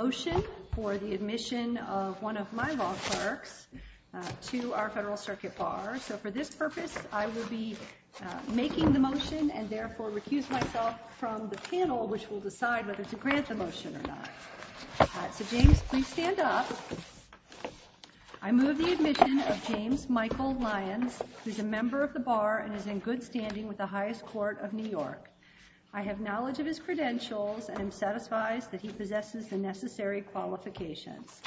Motion for the admission of one of my law clerks to our Federal Circuit Bar. So for this purpose, I will be making the motion and therefore refuse myself from the panel which will decide whether to grant the motion or not. So James, please stand up. I move the admission of James Michael Lyons, who is a member of the Bar and is in good standing with the highest court of New York. I have knowledge of his credentials and am satisfied that he possesses the necessary qualifications.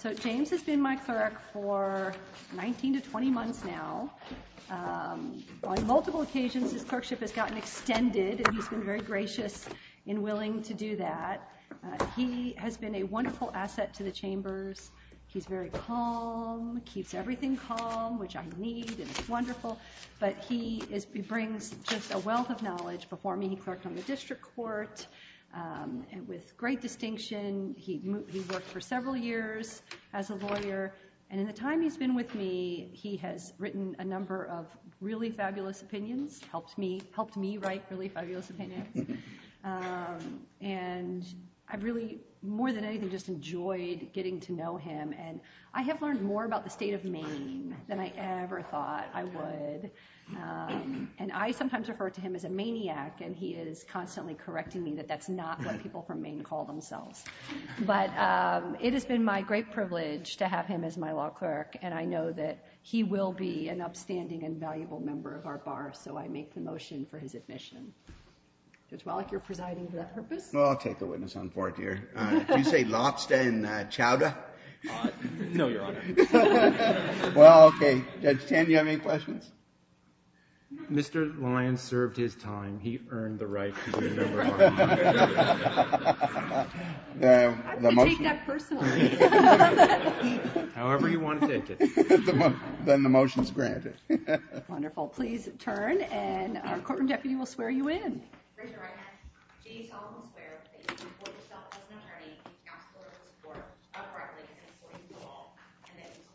So James has been my clerk for 19 to 20 months now. On multiple occasions, his clerkship has gotten extended and he's been very gracious and willing to do that. He has been a wonderful asset to the chambers. He's very calm, keeps everything calm, which I believe is wonderful, but he brings just a wealth of knowledge before me. He clerks on the district court and with great distinction. He worked for several years as a lawyer and in the time he's been with me, he has written a number of really fabulous opinions. Helped me write really fabulous opinions. And I've really, more than anything, just enjoyed getting to know him. And I have learned more about the state of Maine than I ever thought I would. And I sometimes refer to him as a maniac and he is constantly correcting me that that's not what people from Maine call themselves. But it has been my great privilege to have him as my law clerk and I know that he will be an upstanding and valuable member of our Bar, so I make the motion for his admission. As well, if you're presiding for that purpose. Well, I'll take a witness on fourth year. You say lobster and chowder? No, your honor. Well, okay. Stan, do you have any questions? Mr. Lyons served his time. He earned the right to be a member of our Bar. However you want to take it, then the motion's granted. Wonderful. Please turn and our courtroom deputy will swear you in. I swear to you by the authority vested in me, that I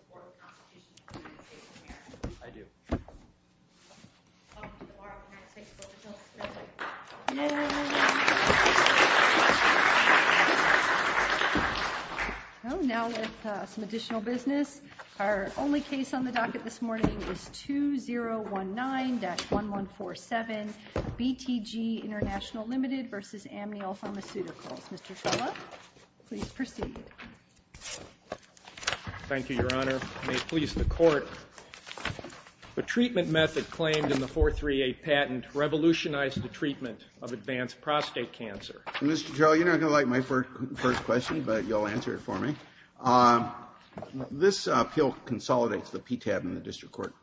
will not torture you for the rest of my life. I swear to you by the authority vested in me, that I will not torture you for the rest of my life. I do. Yay! Well, now let's do some additional business. Our only case on the docket this morning is 2019-1147 BTG International Limited versus Amiel Pharmaceuticals. Mr. Teller, please proceed. Thank you, your honor. I may please the court. The treatment method claimed in the 438 patent revolutionized the treatment of advanced prostate cancer. Mr. Teller, you're not going to like my first question, but you'll answer it for me. This appeal consolidates the PTAB in the district court.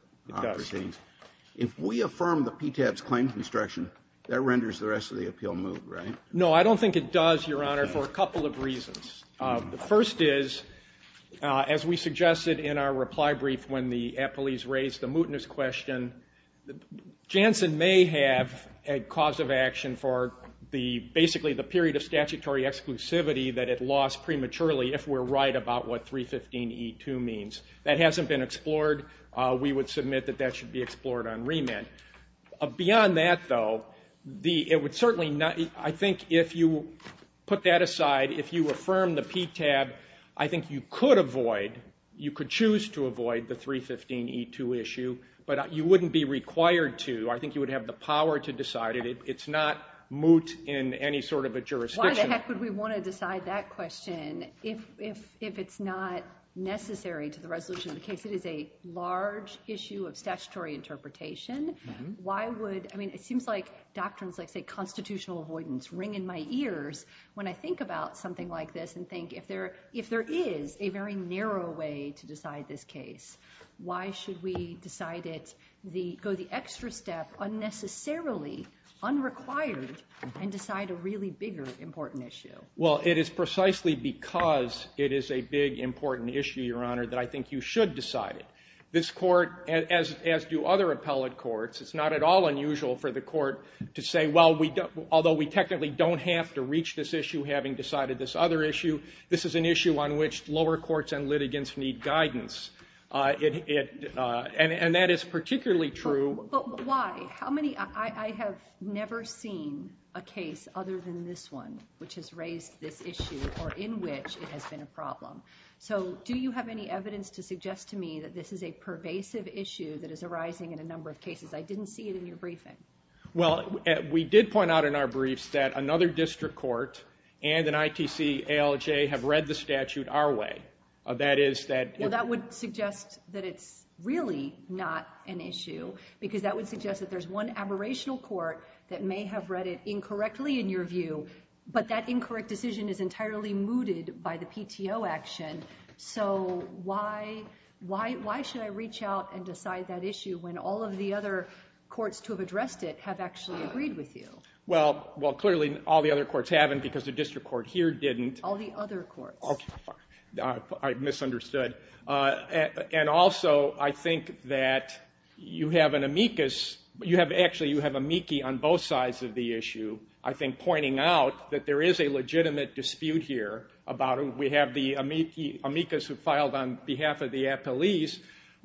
If we affirm the PTAB's claim construction, that renders the rest of the appeal moot, right? No, I don't think it does, your honor, for a couple of reasons. The first is, as we suggested in our reply brief when the appellees raised the mootness question, Janssen may have a cause of action for basically the period of statutory exclusivity that it lost prematurely if we're right about what 315-E2 means. That hasn't been explored. We would submit that that should be explored on remand. Beyond that, though, I think if you put that aside, if you affirm the PTAB, I think you could avoid, you could choose to avoid the 315-E2 issue, but you wouldn't be required to. I think you would have the power to decide it. It's not moot in any sort of a jurisdiction. Why the heck would we want to decide that question if it's not necessary to the resolution of the case? It is a large issue of statutory interpretation. Why would, I mean, it seems like doctrines like, say, constitutional avoidance ring in my ears when I think about something like this and think if there is a very narrow way to decide this case, why should we decide it, go the extra step, unnecessarily, unrequired, and decide a really bigger important issue? Well, it is precisely because it is a big important issue, Your Honor, that I think you should decide it. This court, as do other appellate courts, it's not at all unusual for the court to say, well, although we technically don't have to reach this issue having decided this other issue, this is an issue on which lower courts and litigants need guidance. And that is particularly true. Why? How many, I have never seen a case other than this one which has raised this issue or in which it has been a problem. So do you have any evidence to suggest to me that this is a pervasive issue that is arising in a number of cases? I didn't see it in your briefing. Well, we did point out in our briefs that another district court and an ITC ALJ have read the statute our way. That would suggest that it's really not an issue, because that would suggest that there's one aberrational court that may have read it incorrectly, in your view, but that incorrect decision is entirely mooted by the PTO action. So why should I reach out and decide that issue when all of the other courts who have addressed it have actually agreed with you? Well, clearly all the other courts haven't because the district court here didn't. All the other courts. I misunderstood. And also, I think that you have an amicus. You have actually, you have amici on both sides of the issue. I think pointing out that there is a legitimate dispute here about it. We have the amicus who filed on behalf of the appellees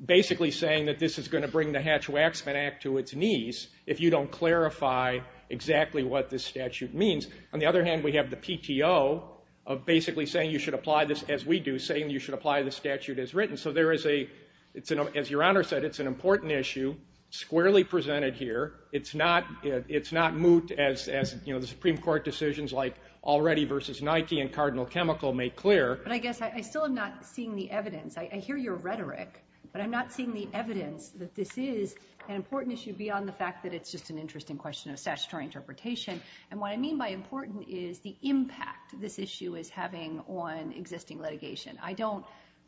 basically saying that this is going to bring the Hatch-Waxman Act to its knees if you don't clarify exactly what this statute means. On the other hand, we have the PTO of basically saying you should apply this, as we do, saying you should apply the statute as written. So there is a, it's an, as your Honor said, it's an important issue, squarely presented here. It's not, it's not moved as, as, you know, the Supreme Court decisions like Already v. Nike and Cardinal Chemical make clear. But I guess I still am not seeing the evidence. I hear your rhetoric, but I'm not seeing the evidence that this is an important issue beyond the fact that it's just an interesting question of statutory interpretation. And what I mean by important is the impact this issue is having on existing litigation. I don't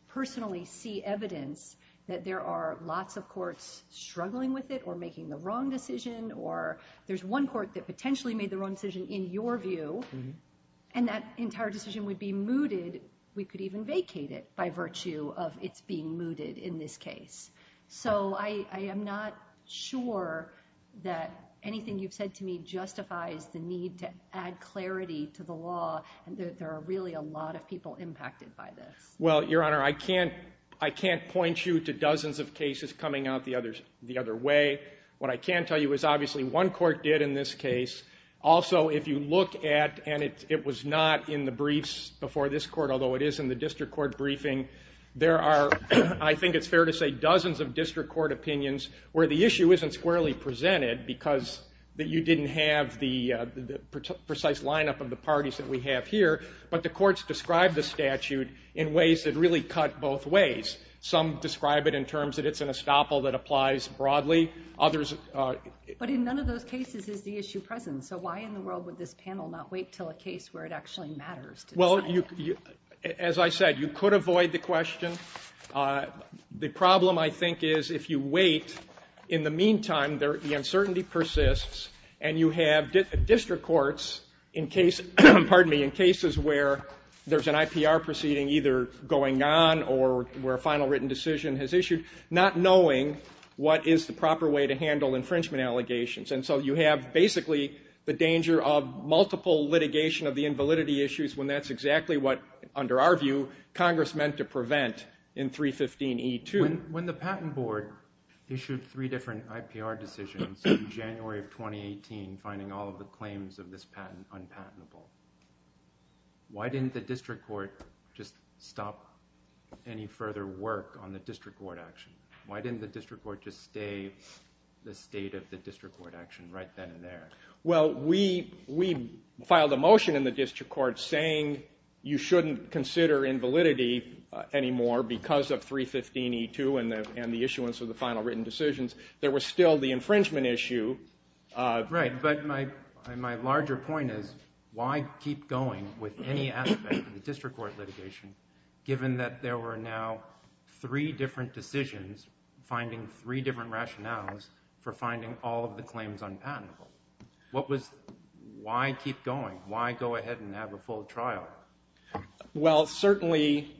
personally see evidence that there are lots of courts struggling with it or making the wrong decision or there's one court that potentially made the wrong decision in your view and that entire decision would be mooted. We could even vacate it by virtue of it being mooted in this case. So I, I am not sure that anything you've said to me justifies the need to add clarity to the law and that there are really a lot of people impacted by this. Well, your Honor, I can't, I can't point you to dozens of cases coming out the other, the other way. What I can tell you is obviously one court did in this case. Also, if you look at, and it was not in the briefs before this court, although it is in the district court briefing, there are, I think it's fair to say, dozens of district court opinions where the issue isn't squarely presented because that you didn't have the precise lineup of the parties that we have here, but the courts describe the statute in ways that really cut both ways. Some describe it in terms that it's an estoppel that applies broadly. Others... But in none of those cases is the issue present. So why in the world would this panel not wait till a case where it actually matters? Well, you, as I said, you could avoid the question. The problem, I think, is if you wait, in the meantime, there, the uncertainty persists and you have district courts in case, pardon me, in cases where there's an IPR proceeding either going on or where a final written decision has issued, not knowing what is the proper way to handle infringement allegations. And so you have, basically, the danger of multiple litigation of the invalidity issues when that's exactly what, under our view, Congress meant to prevent in 315E2. When the Patent Board issued three different IPR decisions in January of 2018 finding all of the claims of this patent unpatentable, why didn't the district court just stop any further work on the district court action? Why didn't the district court just stay the state of the district court action right then and there? Well, we filed a motion in the district court saying you shouldn't consider invalidity anymore because of 315E2 and the issuance of the final written decisions. There was still the infringement issue. Right, but my larger point is why keep going with any aspect of the district court litigation given that there were now three different decisions, finding three different rationales for finding all of the claims unpatentable? What was... Why keep going? Why go ahead and have a full trial? Well, certainly,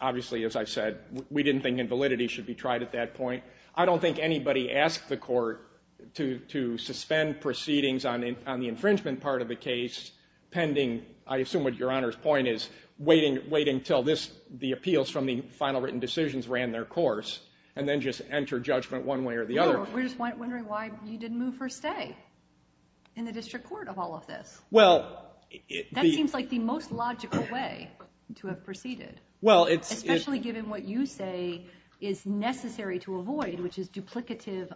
obviously, as I said, we didn't think invalidity should be tried at that point. I don't think anybody asked the court to suspend proceedings on the infringement part of the case pending, I assume what Your Honor's point is, wait until the appeals from the final written decisions ran their course and then just enter judgment one way or the other. No, we're just wondering why you didn't move or stay in the district court of all of this. Well... That seems like the most logical way to have proceeded. Well, it's... Especially given what you say is necessary to avoid, which is duplicative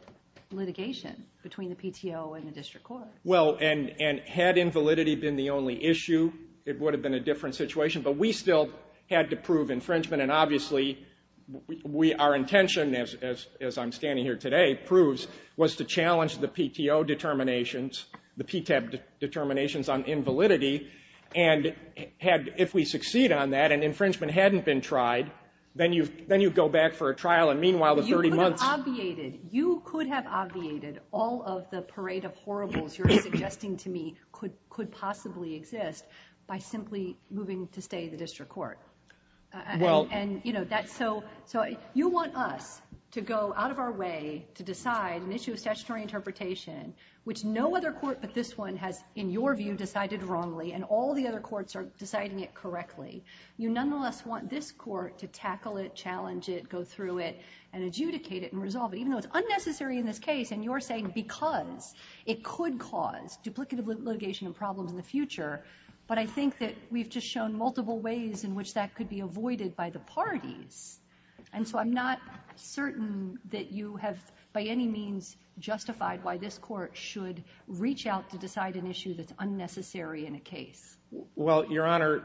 litigation between the PTO and the district court. Well, and had invalidity been the only issue, it would have been a different situation, but we still had to prove infringement and obviously we... Our intention, as I'm standing here today, proves was to challenge the PTO determinations, the PTAB determinations on invalidity, and had... If we succeed on that and infringement hadn't been tried, then you go back for a trial and meanwhile the 30 months... Obviated, you could have obviated all of the parade of horribles you're suggesting to me could possibly exist by simply moving to stay in the district court. Well... And, you know, that's so... So if you want us to go out of our way to decide an issue of stationary interpretation, which no other court but this one has, in your view, decided wrongly and all the other courts are deciding it correctly, you nonetheless want this court to tackle it, challenge it, go through it, and adjudicate it and resolve it. Even though it's unnecessary in this case, and you're saying because it could cause duplicative litigation a problem in the future, but I think that we've just shown multiple ways in which that could be avoided by the parties. And so I'm not certain that you have by any means justified why this court should reach out to decide an issue that's unnecessary in a case. Well, your honor,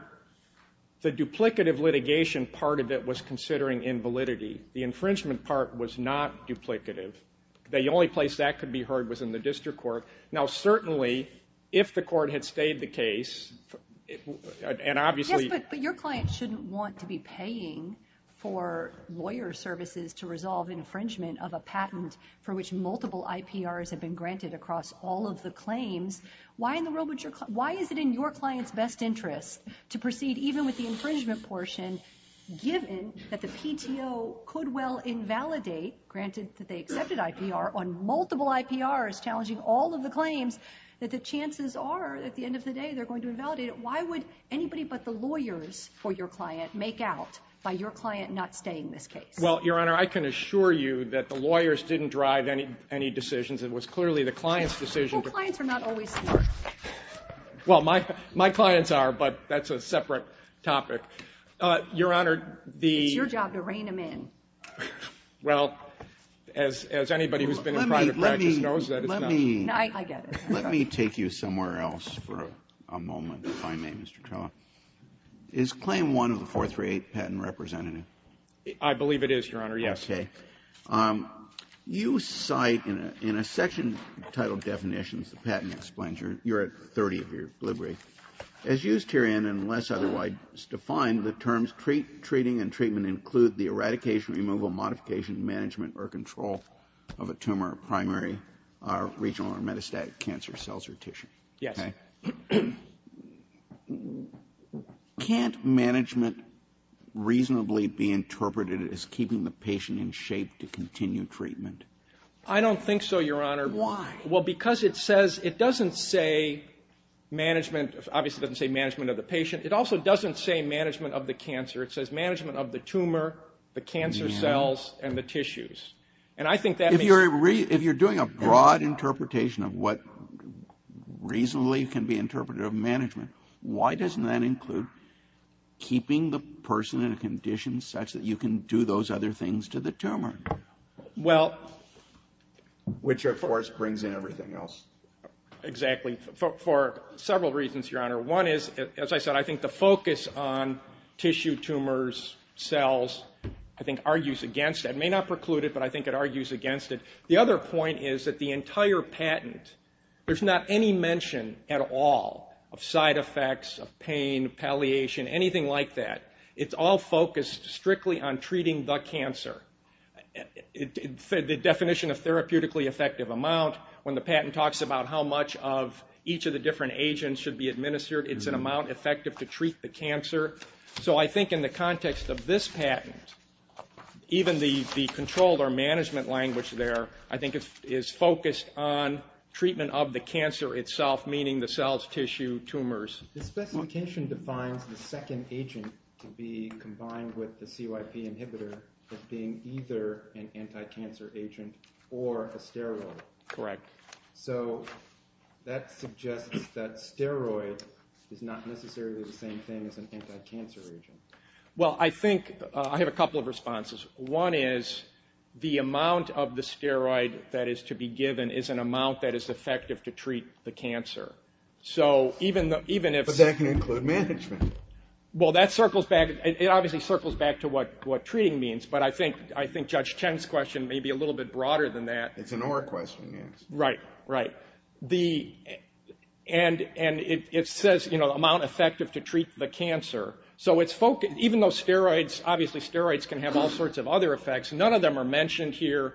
the duplicative litigation part of it was considering invalidity. The infringement part was not duplicative. The only place that could be heard was in the district court. Now, certainly, if the court had stayed the case, and obviously... Yes, but your client shouldn't want to be paying for lawyer services to resolve infringement of a patent for which multiple IPRs have been granted across all of the claims. Why is it in your client's best interest to proceed even with the infringement portion, given that the PTO could well invalidate, granted that they accepted IPR, on multiple IPRs challenging all of the claims, that the chances are, at the end of the day, they're going to invalidate it. Why would anybody but the lawyers for your client make out by your client not staying this case? Well, your honor, I can assure you that the lawyers didn't drive any decisions. It was clearly the client's decision. Well, your clients are not always clients. Well, my clients are, but that's a separate topic. Your honor, the... It's your job to rein them in. Well, as anybody who's been in private practice knows that it's not... Let me take you somewhere else for a moment, if I may, Mr. Tulloch. Is Claim 1 of the 438 patent representative? I believe it is, your honor, yes. Okay. You cite, in a section titled Definitions of the Patent Explained, you're at 30, if you're liberate. As used herein, unless otherwise defined, the terms treating and treatment include the eradication, removal, modification, management, or control of a tumor, primary, regional, or metastatic cancer cells or tissue. Yes. Can't management reasonably be interpreted as keeping the patient in shape to continue treatment? I don't think so, your honor. Why? Well, because it says, it doesn't say management, obviously doesn't say management of the patient. It also doesn't say management of the cancer. It says management of the tumor, the cancer cells, and the tissues, and I think that... If you're doing a broad interpretation of what reasonably can be interpreted of management, why doesn't that include keeping the person in a condition such that you can do those other things to the tumor? Well, which of course brings in everything else. Exactly. For several reasons, your honor. One is, as I said, I think the focus on tissue tumors, cells, I think argues against it. It may not preclude it, but I think it argues against it. The other point is that the entire patent, there's not any mention at all of side effects of pain, palliation, anything like that. It's all focused strictly on treating the cancer. The definition of therapeutically effective amount, when the patent talks about how much of each of the different agents should be administered, it's an amount effective to treat the cancer. So I think in the context of this patent, even the controlled or management language there, I think it is focused on treatment of the cancer itself, meaning the cells, tissue, tumors. This definition defines the second agent to be combined with the CYP inhibitor as being either an anti-cancer agent or a steroid. Correct. So that suggests that steroids is not necessarily the same thing as an anti-cancer agent. Well, I think I have a couple of responses. One is the amount of the steroid that is to be given is an amount that is effective to treat the cancer. So even if... Does that include management? Well, that circles back, it obviously circles back to what what treating means, but I think I think Judge Ten's question may be a little bit broader than that. It's an oral question, yes. Right, right. And it says, you know, amount effective to treat the cancer. So it's focused, even though steroids, obviously steroids, can have all sorts of other effects, none of them are mentioned here,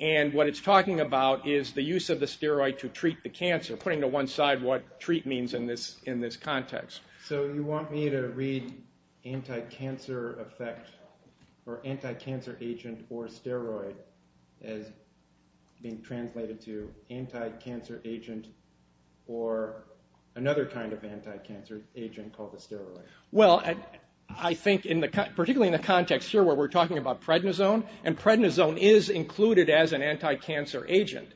and what it's talking about is the use of the steroid to treat the cancer, putting to one side what treat means in this in this context. So you want me to read anti-cancer effect or anti-cancer agent or steroid as being translated to anti-cancer agent or another kind of anti-cancer agent called a steroid? Well, I think in the... particularly in the context, sure, where we're talking about prednisone, and prednisone is included as an anti-cancer agent.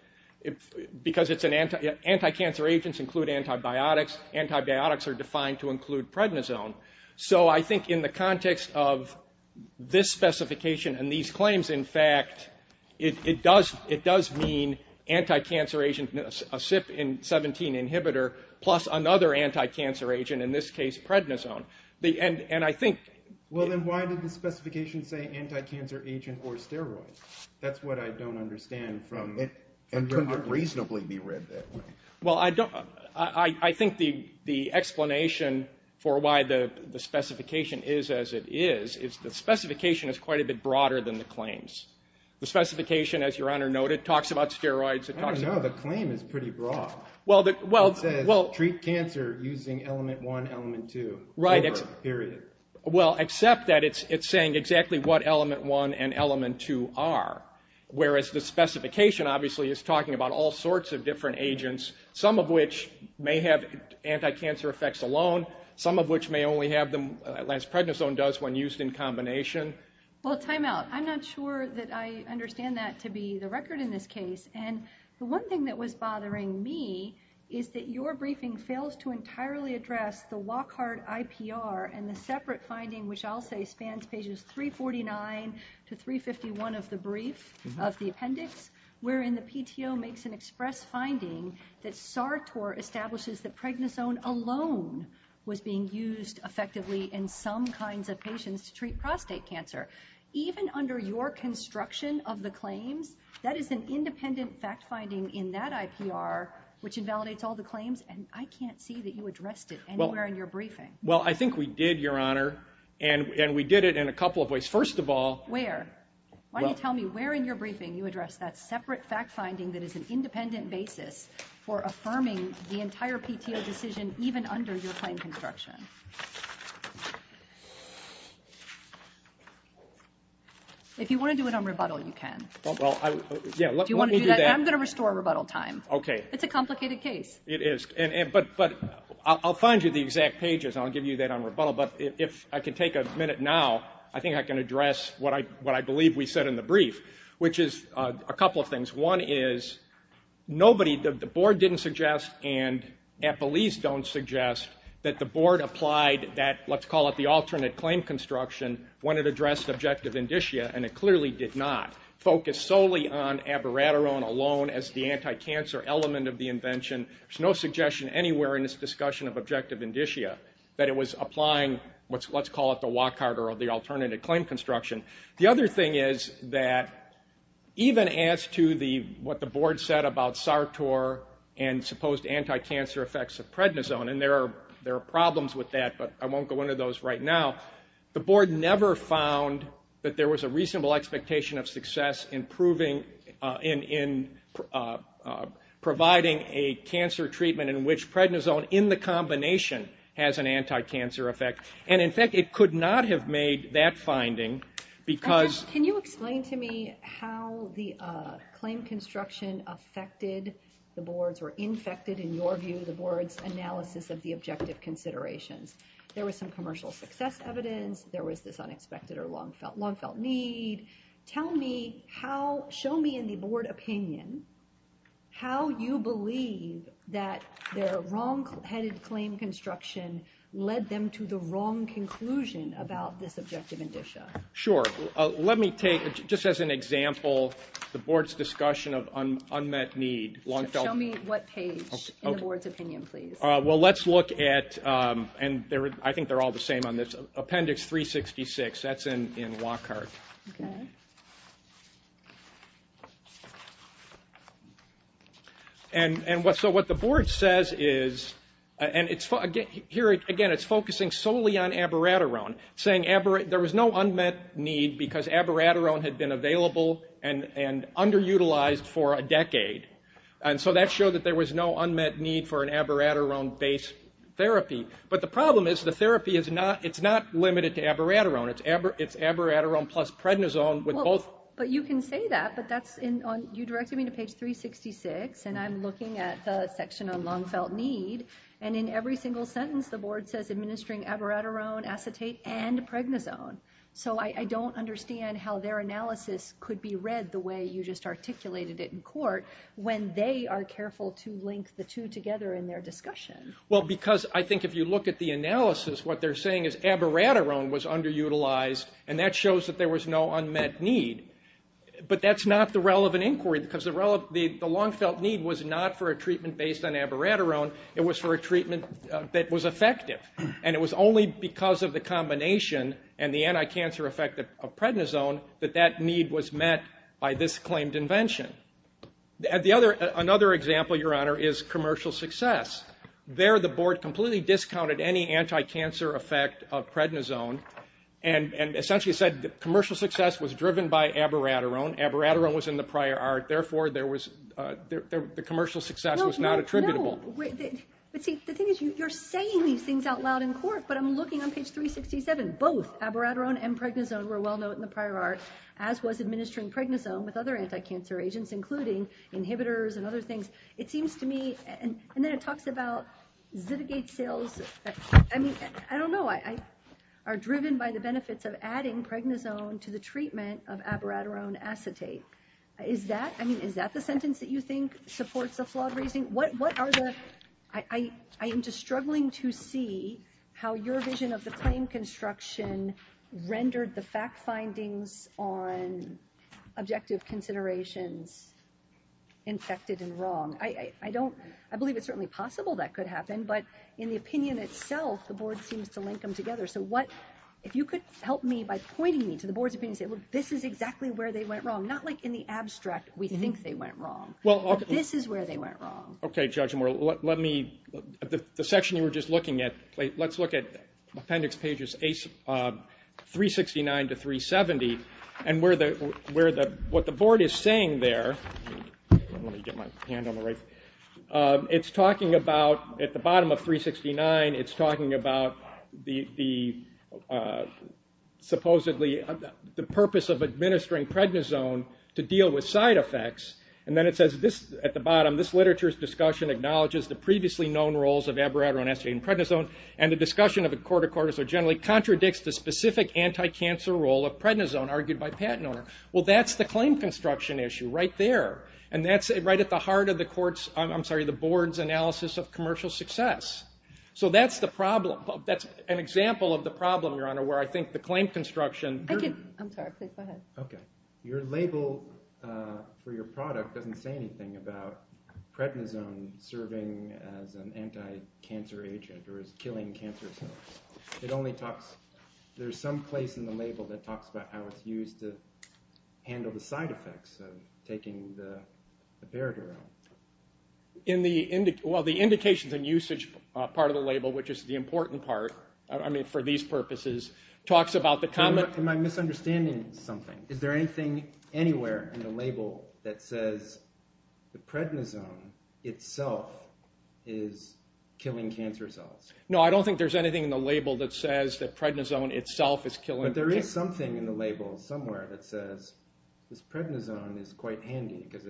Because it's an anti... anti-cancer agents include antibiotics. Antibiotics are defined to include prednisone. So I think in the context of this specification and these claims, in fact, it does... it does mean anti-cancer agent, a CYP-17 inhibitor, plus another anti-cancer agent, in this case prednisone. The... and... and I think... Well, then why does the specification say anti-cancer agent or steroid? That's what I don't understand from this, and it can't reasonably be read that way. Well, I don't... I think the... the explanation for why the specification is as it is, is the specification is quite a bit broader than the claims. The specification, as your Honor noted, talks about steroids. I don't know, the claim is pretty broad. Well, the... well... well... Treat cancer using element one, element two. Right. Period. Well, except that it's... it's saying exactly what element one and element two are. Whereas the specification, obviously, is talking about all sorts of different agents, some of which may have anti-cancer effects alone, some of which may only have them... as prednisone does when used in combination. Well, timeout. I'm not sure that I understand that to be the record in this case. And the one thing that was bothering me is that your briefing fails to entirely address the Lockhart IPR and the separate finding, which I'll say spans pages 349 to 351 of the brief, of the appendix, wherein the PTO makes an express finding that SARTOR establishes that prednisone alone was being used effectively in some kinds of patients to treat prostate cancer. Even under your construction of the claim, that is an independent fact-finding in that IPR, which invalidates all the claims, and I can't see that you addressed it anywhere in your briefing. Well, I think we did, your Honor, and... and we did it in a couple of ways. First of all... Where? Why don't you tell me where in your briefing you addressed that separate fact-finding that is an independent basis for claim construction? If you want to do it on rebuttal, you can. Well, I... yeah, let me do that. I'm going to restore rebuttal time. It's a complicated case. It is, but I'll find you the exact pages, and I'll give you that on rebuttal, but if I could take a minute now, I think I can address what I... what I believe we said in the brief, which is a couple of things. One is nobody... the board didn't suggest, and FLEs don't suggest, that the board applied that, let's call it the alternate claim construction, when it addressed objective indicia, and it clearly did not. Focus solely on abiraterone alone as the anti-cancer element of the invention. There's no suggestion anywhere in this discussion of objective indicia that it was applying what's... let's call it the Wachhardt or the alternative claim construction. The other thing is that even as to the... what the board said about SARTOR and supposed anti-cancer effects of prednisone, and there are... there are problems with that, but I won't go into those right now, the board never found that there was a reasonable expectation of success in proving... in providing a cancer treatment in which prednisone, in the combination, has an anti-cancer effect. And in fact, it could not have made that finding because... How the claim construction affected the board's, or infected, in your view, the board's analysis of the objective considerations. There was some commercial success evidence. There was this unexpected or long-felt need. Tell me how... show me in the board opinion how you believe that the wrong-headed claim construction led them to the wrong conclusion about this objective indicia. Sure, let me take, just as an example, the board's discussion of unmet need... Tell me what page, in the board's opinion, please. Well, let's look at... and there... I think they're all the same on this... Appendix 366. That's in Wachhardt. And... and what... so what the board says is... Here, again, it's focusing solely on abiraterone, saying there was no unmet need because abiraterone had been available and underutilized for a decade. And so that showed that there was no unmet need for an abiraterone-based therapy. But the problem is the therapy is not... it's not limited to abiraterone. It's abiraterone plus prednisone with both... Well, but you can say that, but that's in... you directed me to page 366, and I'm looking at the section on long-felt need, and in every single sentence the board says administering abiraterone, acetate, and prednisone. So I don't understand how their analysis could be read the way you just articulated it in court when they are careful to link the two together in their discussion. Well, because I think if you look at the analysis, what they're saying is abiraterone was underutilized, and that shows that there was no unmet need. But that's not the relevant inquiry, because the long-felt need was not for a treatment based on abiraterone. It was for a treatment that was effective, and it was only because of the combination and the anti-cancer effect of prednisone that that need was met by this claimed invention. The other... another example, Your Honor, is commercial success. There, the board completely discounted any anti-cancer effect of prednisone, and essentially said commercial success was driven by abiraterone. Abiraterone was in the prior art. Therefore, there was... the commercial success was not attributable. No, no, no, the thing is, you're saying these things out loud in court, but I'm looking on page 367. Both abiraterone and prednisone were well known in the prior art, as was administering prednisone with other anti-cancer agents, including inhibitors and other things. It seems to me, and then it talks about I mean, I don't know, I... are driven by the benefits of adding prednisone to the treatment of abiraterone acetate. Is that... I mean, is that the sentence that you think supports the flaw? What are the... I am just struggling to see how your vision of the claim construction rendered the fact findings on objective considerations infected and wrong. I don't... I believe it's certainly possible that could happen, but in the opinion itself, the board seems to link them together. So what... if you could help me by pointing me to the board's opinion, this is exactly where they went wrong. Not like in the abstract, we think they went wrong. Well, this is where they went wrong. Okay, Judge Moore, let me... the section you were just looking at, let's look at appendix pages 369 to 370, and where the... where the... what the board is saying there... It's talking about, at the bottom of 369, it's talking about the supposedly the purpose of administering prednisone to deal with side effects, and then it says this at the bottom, this literature's discussion acknowledges the previously known roles of abiraterone, essay, and prednisone, and the discussion of the court of quarters are generally contradicts the specific anti-cancer role of prednisone argued by Pat Nohr. Well, that's the claim construction issue right there, and that's it right at the heart of the court's... I'm sorry, the board's analysis of commercial success. So that's the problem. That's an example of the problem, Your Honor, where I think the claim construction... I can... I'm sorry, please go ahead. Your label for your product doesn't say anything about prednisone. Serving as an anti-cancer agent, or killing cancer cells. It only talks... There's some place in the label that talks about how it's used to handle the side effects of taking the abiraterone. In the... well, the indications and usage part of the label, which is the important part, I mean, for these purposes, talks about the kind of... Is there anything anywhere in the label that says the prednisone itself is killing cancer cells? No, I don't think there's anything in the label that says that prednisone itself is killing... But there is something in the label somewhere that says that prednisone is quite handy, because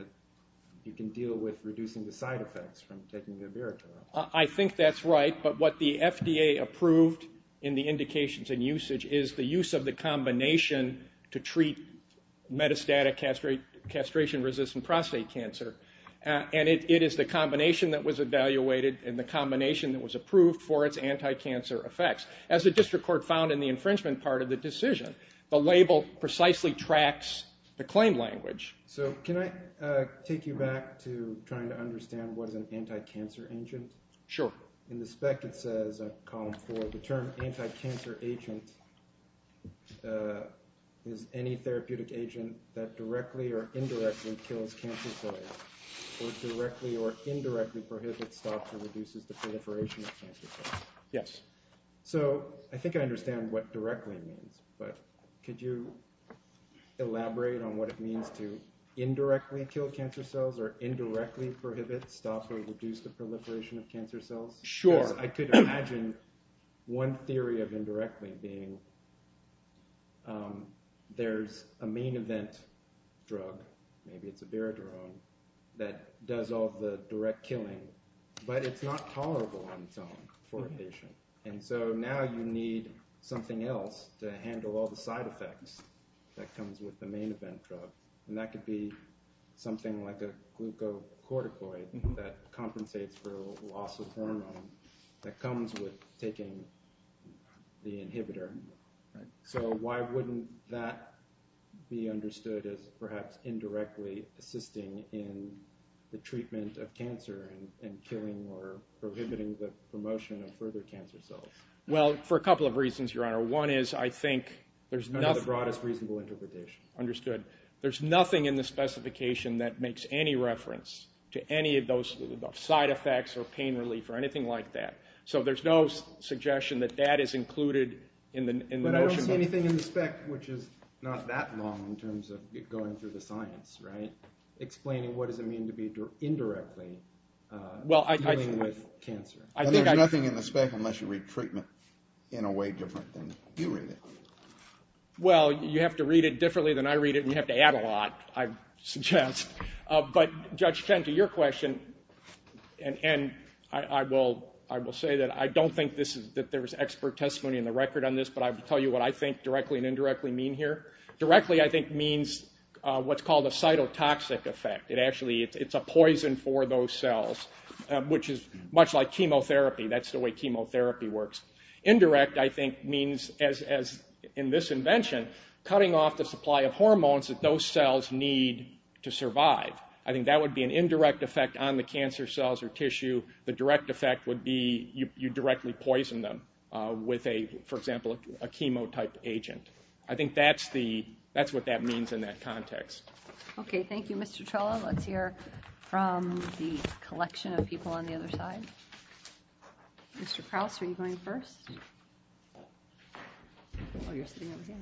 you can deal with reducing the side effects from taking the abiraterone. I think that's right, but what the FDA approved in the indications and usage is the use of the combination to treat metastatic castration-resistant prostate cancer. And it is the combination that was evaluated and the combination that was approved for its anti-cancer effects. As the district court found in the infringement part of the decision, the label precisely tracks the claim language. So, can I take you back to trying to understand what an anti-cancer agent is? Sure. In the spec, it says, in column 4, the term anti-cancer agent is any therapeutic agent that directly or indirectly kills cancer cells, or directly or indirectly prohibits, stops, or reduces the proliferation of cancer cells. Yes. So, I think I understand what directly means, but could you elaborate on what it means to indirectly kill cancer cells, or indirectly prohibits, stops, or reduces the proliferation of cancer cells? Sure. I could imagine one theory of indirectly being, there's a main event drug, maybe it's abiraterone, that does all the direct killing, but it's not tolerable on its own for a patient. And so, now you need something else to handle all the side effects that comes with the main event drug. And that could be something like a glucocorticoid that compensates for a loss of hormone that comes with taking the inhibitor. So, why wouldn't that be understood as perhaps indirectly assisting in the treatment of cancer and killing or prohibiting the promotion of further cancer cells? Well, for a couple of reasons, Your Honor. One is, I think, there's not a broadest reasonable interpretation. There's nothing in the specification that makes any reference to any of those side effects, or pain relief, or anything like that. So, there's no suggestion that that is included in the notion of... But I don't see anything in the spec, which is not that long in terms of going through the science, right? Explaining what does it mean to be indirectly dealing with cancer. I think I... There's nothing in the spec unless you read treatment in a way different than you read it. Well, you have to read it differently than I read it, and you have to add a lot, I suggest. But, Judge Chen, to your question, and I will say that I don't think that there's expert testimony in the record on this, but I'll tell you what I think directly and indirectly mean here. Directly, I think, means what's called a cytotoxic effect. It actually, it's a poison for those cells, which is much like chemotherapy. That's the way chemotherapy works. Indirect, I think, means, as in this invention, cutting off the supply of hormones that those cells need to survive. I think that would be an indirect effect on the cancer cells or tissue. The direct effect would be you directly poison them with a, for example, a chemotype agent. I think that's the... That's what that means in that context. Okay, thank you, Mr. Trello. Let's hear from the collection of people on the other side. Mr. Krause, are you going first? Oh, you're sitting over here.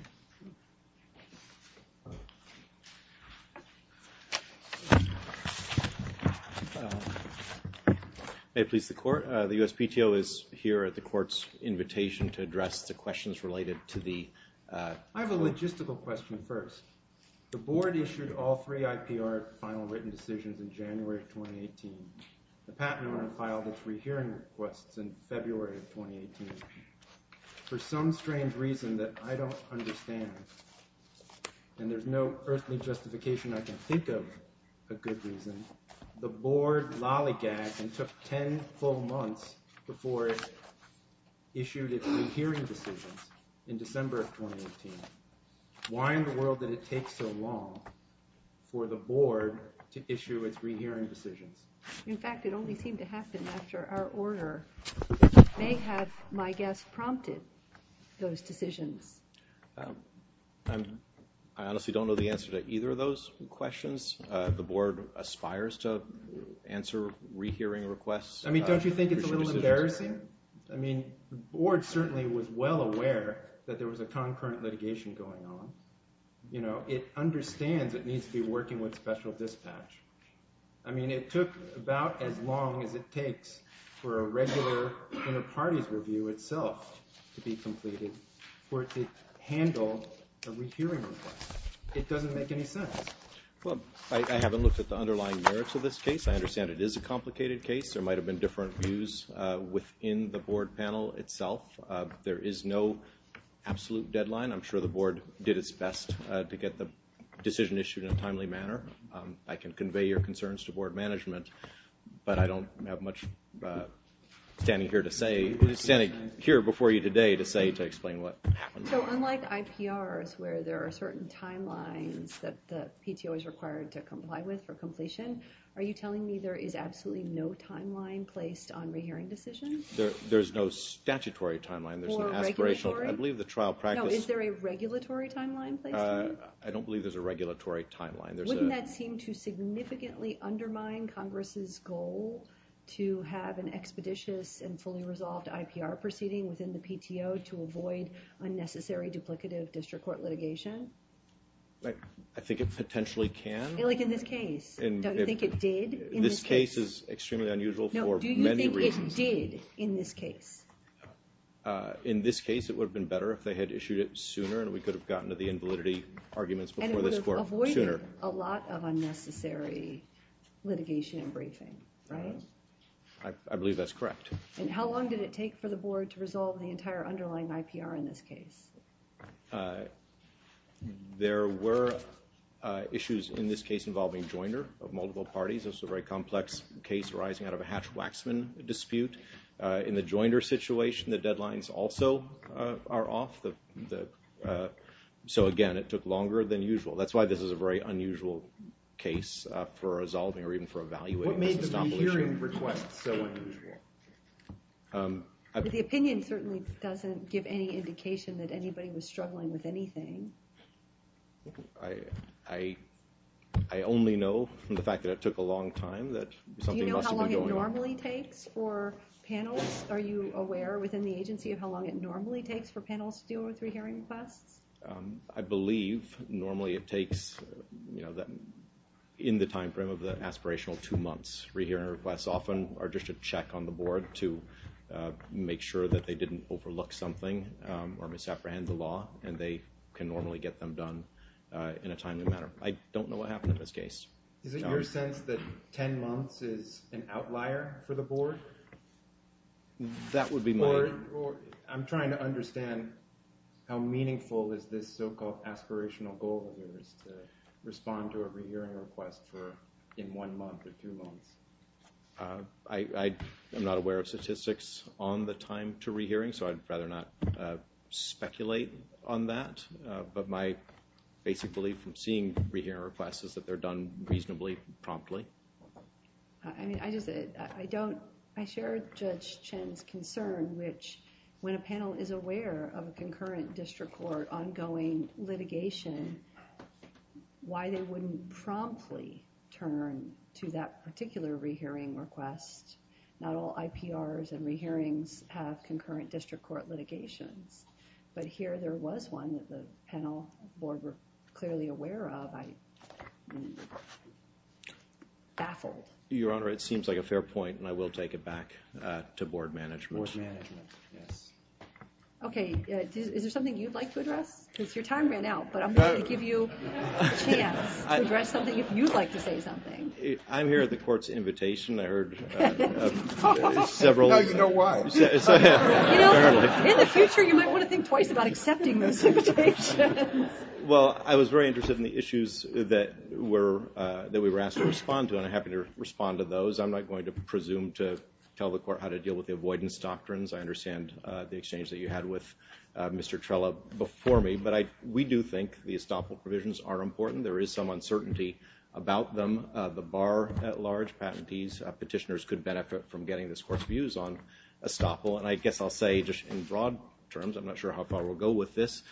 May it please the Court? The USPTO is here at the Court's invitation to address the questions related to the... I have a logistical question first. The Board issued all three IPR final written decisions in January of 2018. The patent owner filed a free hearing request in February of 2018. For some strange reason that I don't understand, and there's no earthly justification I can think of a good reason, the Board lolligagged and took 10 full months before it issued its free hearing decision in December of 2018. Why in the world did it take so long for the Board to issue its free hearing decision? In fact, it only seemed to happen after our order may have, my guess, prompted those decisions. I honestly don't know the answer to either of those questions. The Board aspires to answer free hearing requests. I mean, don't you think it's a little embarrassing? I mean, the Board certainly was well aware that there was a concurrent litigation going on. You know, it understands it needs to be working with special dispatch. I mean, it took about as long as it takes for a regular inter-parties review itself to be completed or to handle a free hearing request. It doesn't make any sense. Well, I haven't looked at the underlying merits of this case. I understand it is a complicated case. There might have been different views within the Board panel itself. There is no absolute deadline. I'm sure the Board did its best to get the decision issued in a timely manner. I can convey your concerns to Board management, but I don't have much standing here to say, standing here before you today to say, to explain what happened. So unlike IPRs where there are certain timelines that the PTO is required to comply with for completion, are you telling me there is absolutely no timeline placed on re-hearing decisions? There's no statutory timeline. Or regulatory? I believe the trial practice... No, is there a regulatory timeline? I don't believe there's a regulatory timeline. Wouldn't that seem to significantly undermine Congress's goal to have an expeditious and fully resolved IPR proceeding within the PTO to avoid unnecessary duplicative district court litigation? I think it potentially can. Like in this case? Don't you think it did in this case? This case is extremely unusual for many reasons. No, do you think it did in this case? In this case, it would have been better if they had issued it sooner and we could have gotten to the invalidity arguments before this court sooner. And it would have avoided a lot of unnecessary litigation and briefing, right? I believe that's correct. And how long did it take for the Board to resolve the entire underlying IPR in this case? There were issues in this case involving joiner of multiple parties. This is a very complex case arising out of a Hatch-Waxman dispute. In the joiner situation, the deadlines also are off. So again, it took longer than usual. That's why this is a very unusual case for resolving or even for evaluating. What made the re-hearing request so unusual? The opinion certainly doesn't give any indication that anybody was struggling with anything. I only know from the fact that it took a long time. Do you know how long it normally takes for panels? Are you aware within the agency of how long it normally takes for panels to deal with re-hearing requests? I believe normally it takes in the time frame of the aspirational two months. Re-hearing requests often are just a check on the Board to make sure that they didn't overlook something or misapprehend the law. And they can normally get them done in a timely manner. I don't know what happened in this case. Is it your sense that 10 months is an outlier for the Board? That would be my... I'm trying to understand how meaningful is this so-called aspirational goal to respond to a re-hearing request in one month or two months. I'm not aware of statistics on the time to re-hearing, so I'd rather not speculate on that. But my basic belief in seeing re-hearing requests is that they're done reasonably promptly. I share Judge Chen's concern, which when a panel is aware of a concurrent district court ongoing litigation, why they wouldn't promptly turn to that particular re-hearing request? Not all IPRs and re-hearings have concurrent district court litigation. But here there was one that the panel board was clearly aware of. Your Honor, it seems like a fair point, and I will take it back to Board management. Okay, is there something you'd like to address? Because your time ran out, but I'm going to give you a chance to address something if you'd like to say something. I'm here at the Court's invitation. I heard several... Now you know why. In the future, you might want to think twice about accepting those invitations. Well, I was very interested in the issues that we were asked to respond to, and I'm happy to respond to those. I'm not going to presume to tell the Court how to deal with the avoidance doctrines. I understand the exchange that you had with Mr. Trella before me. But we do think the estoppel provisions are important. There is some uncertainty about them. The bar at large, patentees, petitioners could benefit from getting this Court's views on estoppel. And I guess I'll say just in broad terms, I'm not sure how far we'll go with this,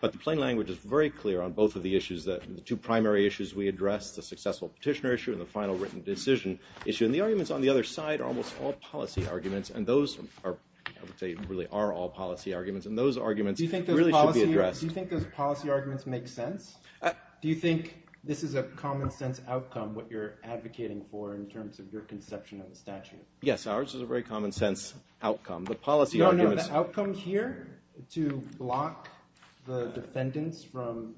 but the plain language is very clear on both of the issues, the two primary issues we addressed, the successful petitioner issue and the final written decision issue. And the arguments on the other side are almost all policy arguments. And those are, I would say, really are all policy arguments. And those arguments really should be addressed. Do you think those policy arguments make sense? Do you think this is a common-sense outcome, what you're advocating for in terms of your conception of the statute? Yes, ours is a very common-sense outcome. The outcome here to block the defendants from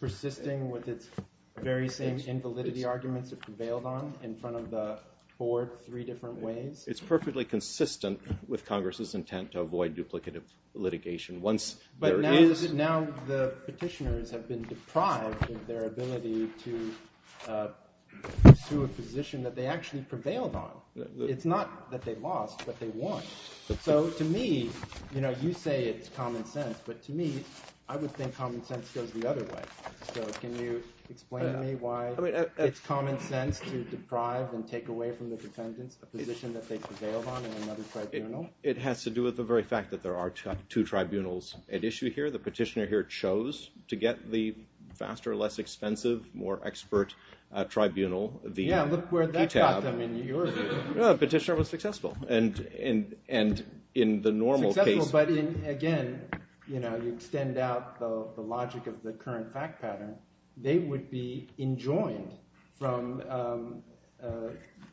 persisting with its very same invalidity argument that prevailed on in front of the four, three different ways? It's perfectly consistent with Congress's intent to avoid duplicative litigation once there is. But now the petitioners have been deprived of their ability to pursue a position that they actually prevailed on. It's not that they lost, but they won. So to me, you say it's common sense, but to me, I would think common sense goes the other way. So can you explain to me why it's common sense to deprive and take away from the defendant a position that they prevailed on in another tribunal? It has to do with the very fact that there are two tribunals at issue here. The petitioner here chose to get the faster, less expensive, more expert tribunal, the QTAB. Yeah, look where that got them in New York. Yeah, the petitioner was successful, and in the normal case. Again, to extend out the logic of the current fact pattern, they would be enjoined from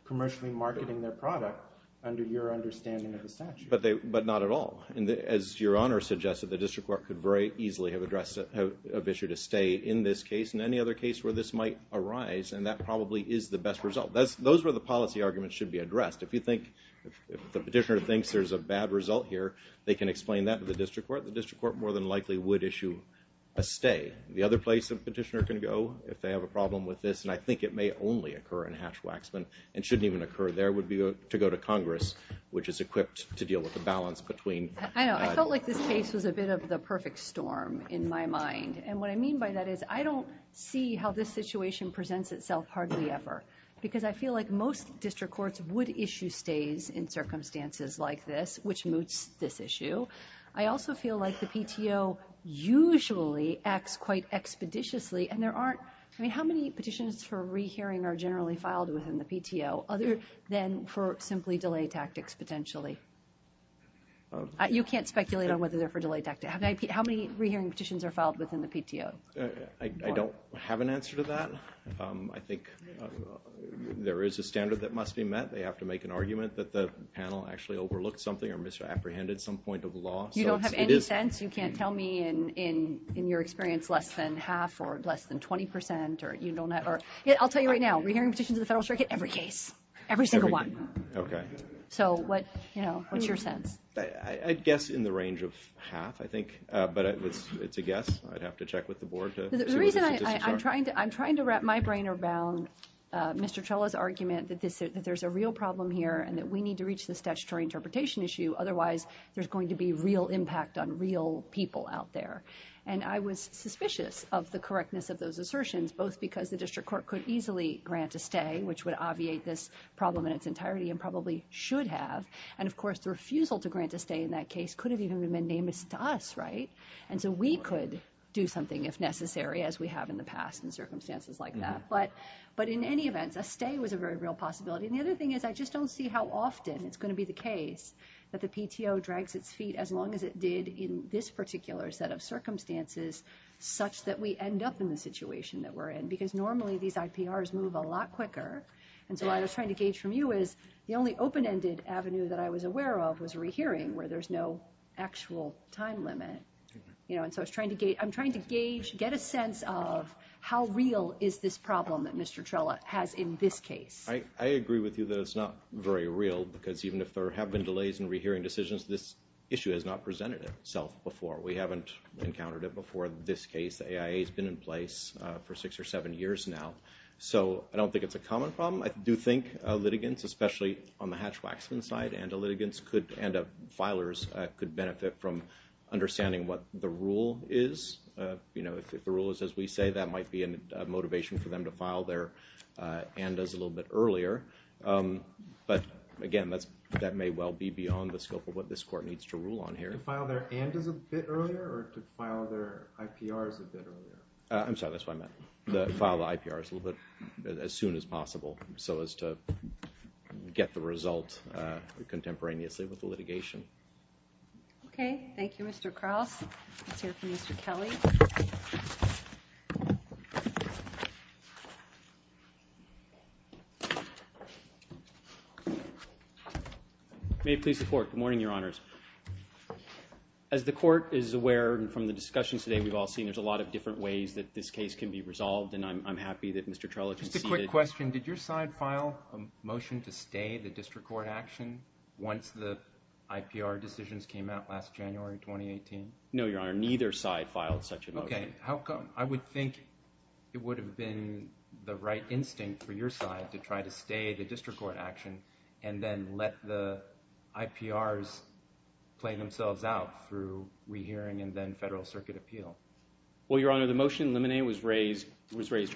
commercially marketing their product under your understanding of the statute. But not at all. As Your Honor suggested, the district court could very easily have issued a state in this case and any other case where this might arise, and that probably is the best result. Those are the policy arguments should be addressed. If the petitioner thinks there's a bad result here, they can explain that to the district court. The district court more than likely would issue a stay. The other place a petitioner can go if they have a problem with this, and I think it may only occur in Hatch-Waxman and shouldn't even occur there, would be to go to Congress, which is equipped to deal with the balance between. I know. I felt like this case was a bit of the perfect storm in my mind. And what I mean by that is I don't see how this situation presents itself hardly ever because I feel like most district courts would issue stays in circumstances like this, which moots this issue. I also feel like the PTO usually acts quite expeditiously, and there aren't – I mean, how many petitions for rehearing are generally filed within the PTO other than for simply delay tactics potentially? You can't speculate on whether they're for delay tactics. How many rehearing petitions are filed within the PTO? I don't have an answer to that. I think there is a standard that must be met. They have to make an argument that the panel actually overlooked something or misapprehended some point of the law. You don't have any sense? You can't tell me in your experience less than half or less than 20 percent or – I'll tell you right now, rehearing petitions in the federal circuit, every case, every single one. Okay. So what's your sense? I'd guess in the range of half, I think, but it's a guess. I'd have to check with the board. I'm trying to wrap my brain around Mr. Trella's argument that there's a real problem here and that we need to reach this statutory interpretation issue. Otherwise, there's going to be real impact on real people out there. And I was suspicious of the correctness of those assertions, both because the district court could easily grant a stay, which would obviate this problem in its entirety and probably should have, And of course, the refusal to grant a stay in that case could have even been nameless to us, right? And so we could do something if necessary, as we have in the past in circumstances like that. But in any event, a stay was a very real possibility. And the other thing is I just don't see how often it's going to be the case that the PTO drags its feet as long as it did in this particular set of circumstances such that we end up in the situation that we're in. Because normally, these IPRs move a lot quicker. And so what I was trying to gauge from you is the only open-ended avenue that I was aware of was rehearing, where there's no actual time limit. And so I'm trying to gauge, get a sense of how real is this problem that Mr. Trella has in this case. I agree with you that it's not very real, because even if there have been delays in rehearing decisions, this issue has not presented itself before. We haven't encountered it before in this case. The AIA has been in place for six or seven years now. So I don't think it's a common problem. I do think litigants, especially on the Hatch-Waxman side, and the filers could benefit from understanding what the rule is. You know, if the rule is as we say, that might be a motivation for them to file their and-as a little bit earlier. But again, that may well be beyond the scope of what this Court needs to rule on here. To file their and-as a bit earlier or to file their IPRs a bit earlier? I'm sorry, that's what I meant. File the IPRs a little bit as soon as possible so as to get the result contemporaneously with the litigation. Okay. Thank you, Mr. Cross. I'll turn it to Mr. Kelly. May it please the Court. Good morning, Your Honors. As the Court is aware from the discussions today, we've all seen there's a lot of different ways that this case can be resolved, and I'm happy that Mr. Trello can see it. Just a quick question. Did your side file a motion to stay the district court action once the IPR decisions came out last January 2018? No, Your Honor. Neither side filed such a motion. Okay. How come? I would think it would have been the right instinct for your side to try to stay the district court action and then let the IPRs play themselves out through rehearing and then federal circuit appeal. Well, Your Honor, the motion in Limine was raised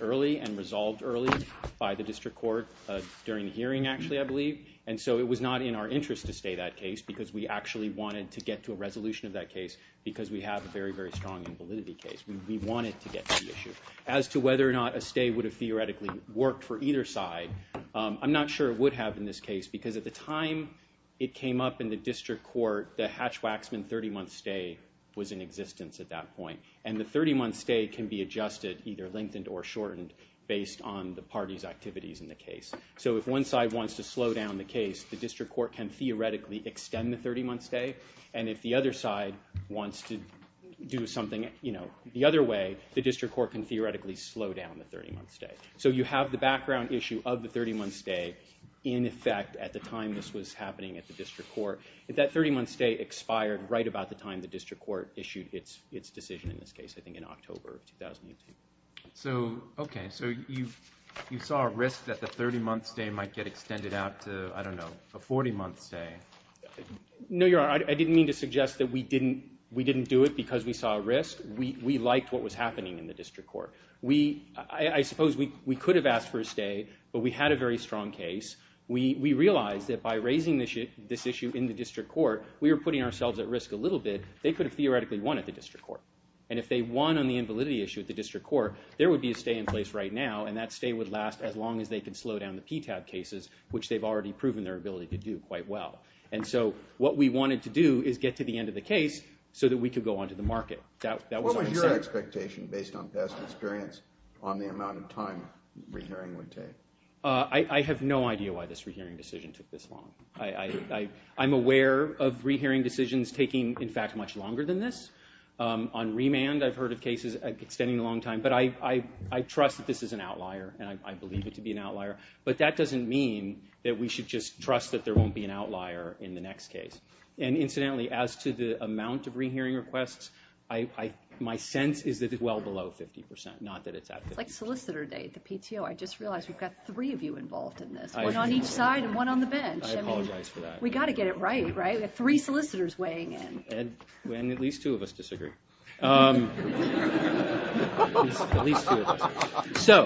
early and resolved early by the district court during the hearing, actually, I believe. And so it was not in our interest to stay that case because we actually wanted to get to a resolution of that case because we have a very, very strong invalidity case. We wanted to get to the issue. As to whether or not a stay would have theoretically worked for either side, I'm not sure it would have in this case because at the time it came up in the district court, the Hatch-Waxman 30-month stay was in existence at that point. And the 30-month stay can be adjusted, either lengthened or shortened, based on the parties' activities in the case. So if one side wants to slow down the case, the district court can theoretically extend the 30-month stay. And if the other side wants to do something the other way, the district court can theoretically slow down the 30-month stay. So you have the background issue of the 30-month stay in effect at the time this was happening at the district court. If that 30-month stay expired right about the time the district court issued its decision in this case, I think in October of 2018. So, okay, so you saw a risk that the 30-month stay might get extended out to, I don't know, a 40-month stay. No, Your Honor, I didn't mean to suggest that we didn't do it because we saw a risk. We liked what was happening in the district court. I suppose we could have asked for a stay, but we had a very strong case. We realized that by raising this issue in the district court, we were putting ourselves at risk a little bit. They could have theoretically won at the district court. And if they won on the invalidity issue at the district court, there would be a stay in place right now, and that stay would last as long as they can slow down the PTAB cases, which they've already proven their ability to do quite well. And so what we wanted to do is get to the end of the case so that we could go on to the market. What was your expectation based on past experience on the amount of time re-hearing would take? I have no idea why this re-hearing decision took this long. I'm aware of re-hearing decisions taking, in fact, much longer than this. On remand, I've heard of cases extending a long time, but I trust that this is an outlier, and I believe it to be an outlier. But that doesn't mean that we should just trust that there won't be an outlier in the next case. And incidentally, as to the amount of re-hearing requests, my sense is that it's well below 50%, not that it's that big. It's like Solicitor Day at the PTO. I just realized we've got three of you involved in this, one on each side and one on the bench. I apologize for that. We've got to get it right, right? We've got three solicitors weighing in. And at least two of us disagree. At least two of us. So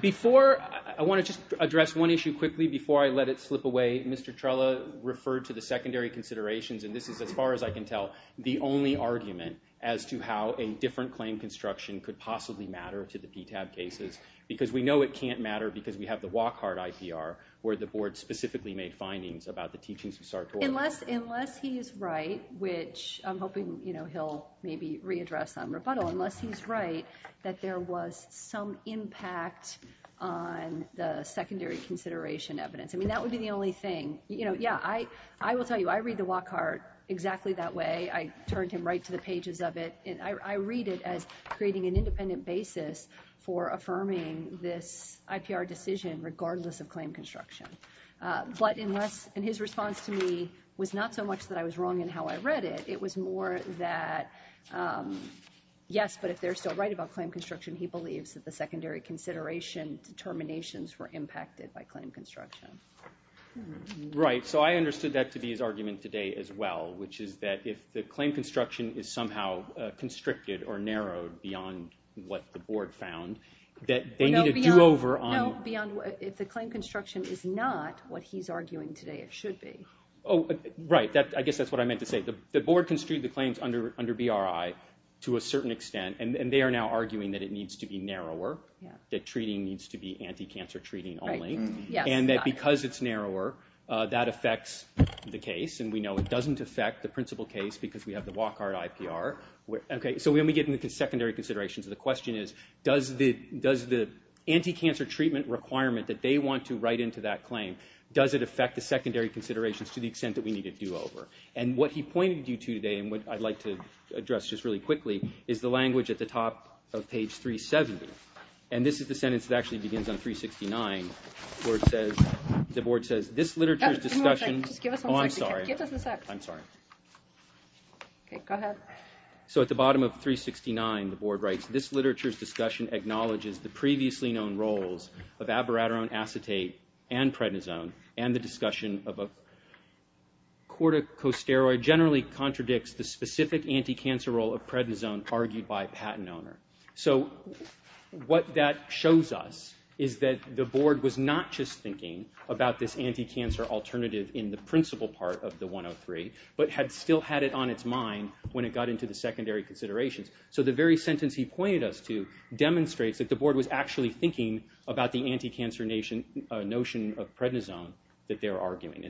before, I want to just address one issue quickly before I let it slip away. Mr. Trella referred to the secondary considerations, and this is, as far as I can tell, the only argument as to how a different claim construction could possibly matter to the DTAB cases, because we know it can't matter because we have the WACCART ICR, where the board specifically made findings about the teachings of SART 4. Unless he's right, which I'm hoping he'll maybe readdress on rebuttal, unless he's right that there was some impact on the secondary consideration evidence. I mean, that would be the only thing. Yeah, I will tell you, I read the WACCART exactly that way. I turned him right to the pages of it. I read it as creating an independent basis for affirming this IPR decision, regardless of claim construction. But in his response to me, it was not so much that I was wrong in how I read it. It was more that, yes, but if they're still right about claim construction, he believes that the secondary consideration determinations were impacted by claim construction. Right, so I understood that to be his argument today as well, which is that if the claim construction is somehow constricted or narrowed beyond what the board found, that they need to do over on- No, if the claim construction is not what he's arguing today, it should be. Right, I guess that's what I meant to say. The board construed the claims under BRI to a certain extent, and they are now arguing that it needs to be narrower, that treating needs to be anti-cancer treating only, and that because it's narrower, that affects the case, and we know it doesn't affect the principal case because we have the WACR at IPR. Okay, so when we get into secondary considerations, the question is, does the anti-cancer treatment requirement that they want to write into that claim, does it affect the secondary considerations to the extent that we need to do over? And what he pointed you to today, and what I'd like to address just really quickly, is the language at the top of page 370. And this is the sentence that actually begins on 369. The board says, this literature's discussion- Give us a second. Oh, I'm sorry. Give us a second. I'm sorry. Okay, go ahead. So at the bottom of 369, the board writes, this literature's discussion acknowledges the previously known roles of abiraterone acetate and prednisone, and the discussion of a corticosteroid generally contradicts the specific anti-cancer role of prednisone argued by patent owner. So what that shows us is that the board was not just thinking about this anti-cancer alternative in the principal part of the 103, but had still had it on its mind when it got into the secondary considerations. So the very sentence he pointed us to demonstrates that the board was actually thinking about the anti-cancer notion of prednisone that they're arguing.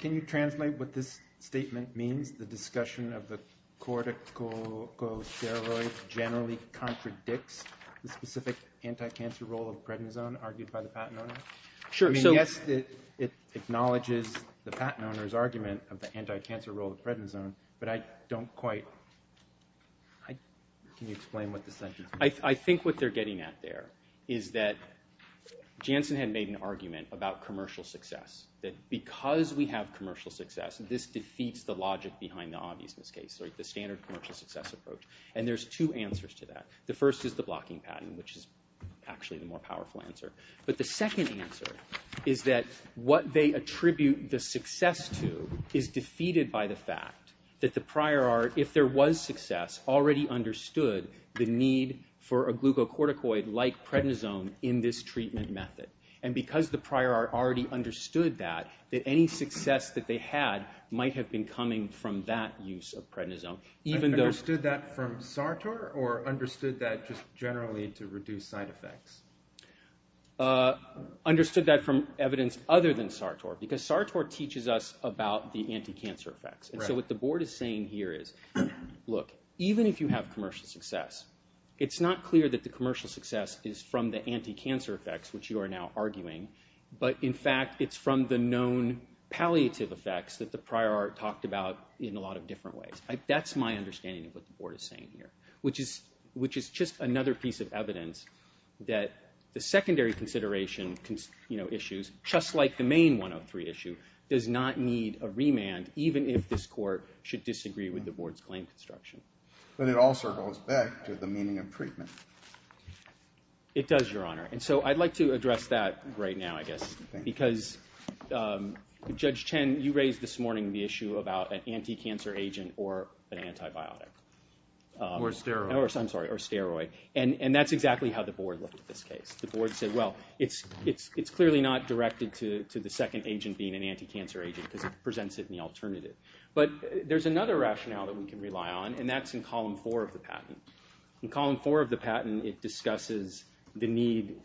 Can you translate what this statement means? The discussion of the corticosteroid generally contradicts the specific anti-cancer role of prednisone argued by the patent owner? Sure. I mean, yes, it acknowledges the patent owner's argument of the anti-cancer role of prednisone, but I don't quite- Can you explain what the sentence- I think what they're getting at there is that Janssen had made an argument about commercial success, that because we have commercial success, this defeats the logic behind the obviousness case, like the standard commercial success approach, and there's two answers to that. The first is the blocking pattern, which is actually the more powerful answer, but the second answer is that what they attribute the success to is defeated by the fact that the prior art, if there was success, already understood the need for a glucocorticoid-like prednisone in this treatment method, and because the prior art already understood that, that any success that they had might have been coming from that use of prednisone. Understood that from Sartor, or understood that just generally to reduce side effects? Understood that from evidence other than Sartor, because Sartor teaches us about the anti-cancer effects. And so what the board is saying here is, look, even if you have commercial success, it's not clear that the commercial success is from the anti-cancer effects, which you are now arguing, but in fact it's from the known palliative effects that the prior art talked about in a lot of different ways. That's my understanding of what the board is saying here, which is just another piece of evidence that the secondary consideration issues, just like the main 103 issue, does not need a remand, even if this court should disagree with the board's claim construction. But it also goes back to the meaning of treatment. It does, Your Honor, and so I'd like to address that right now, I guess, because Judge Chen, you raised this morning the issue about an anti-cancer agent or an antibiotic. Or a steroid. Or a steroid, and that's exactly how the board looked at this case. The board said, well, it's clearly not directed to the second agent being an anti-cancer agent. It presents it in the alternative. But there's another rationale that we can rely on, and that's in column four of the patent. In column four of the patent, it discusses the need,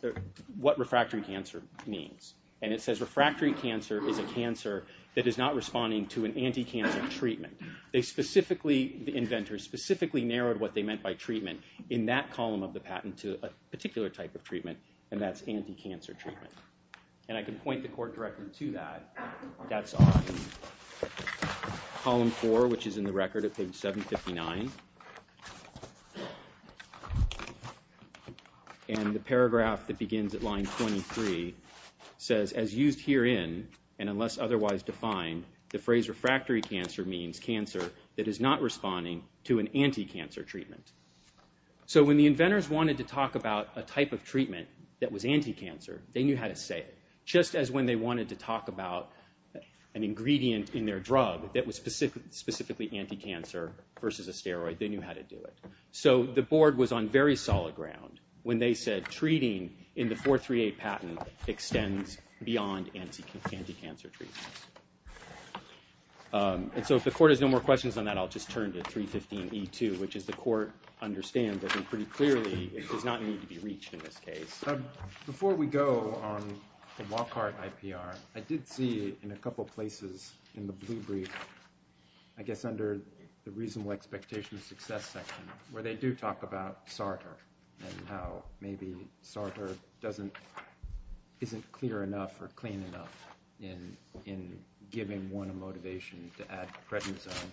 what refractory cancer means. And it says refractory cancer is a cancer that is not responding to an anti-cancer treatment. They specifically, the inventors, specifically narrowed what they meant by treatment in that column of the patent to a particular type of treatment, and that's anti-cancer treatment. And I can point the court directly to that. That's on column four, which is in the record at page 759. And the paragraph that begins at line 23 says, as used herein, and unless otherwise defined, the phrase refractory cancer means cancer that is not responding to an anti-cancer treatment. So when the inventors wanted to talk about a type of treatment that was anti-cancer, they knew how to say it. Just as when they wanted to talk about an ingredient in their drug that was specifically anti-cancer versus a steroid, they knew how to do it. So the board was on very solid ground when they said treating in the 438 patent extends beyond anti-cancer treatment. And so if the court has no more questions on that, I'll just turn to 315E2, which is the court understands that pretty clearly it does not need to be reached in this case. But before we go on the Lockhart IPR, I did see in a couple of places in the blue brief, I guess under the reasonable expectations success section, where they do talk about SARTA and how maybe SARTA isn't clear enough or plain enough in giving one a motivation to add prednisone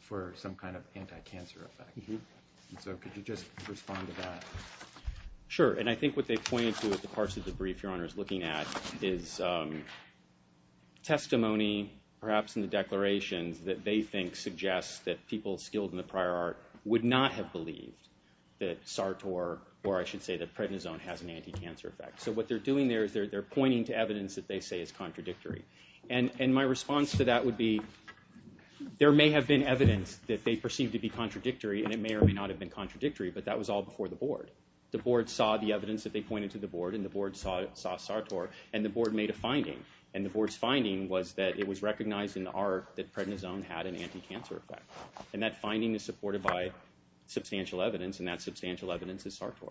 for some kind of anti-cancer effect. So could you just respond to that? Sure. And I think what they point to is the parts of the brief your Honor is looking at is testimony, perhaps in the declaration, that they think suggests that people skilled in the prior art would not have believed that SARTA or I should say that prednisone has an anti-cancer effect. So what they're doing there is they're pointing to evidence that they say is contradictory. And my response to that would be there may have been evidence that they perceived to be contradictory and it may or may not have been contradictory, but that was all before the board. The board saw the evidence that they pointed to the board and the board saw SARTA and the board made a finding. And the board's finding was that it was recognized in the art that prednisone had an anti-cancer effect. And that finding is supported by substantial evidence and that substantial evidence is SARTA.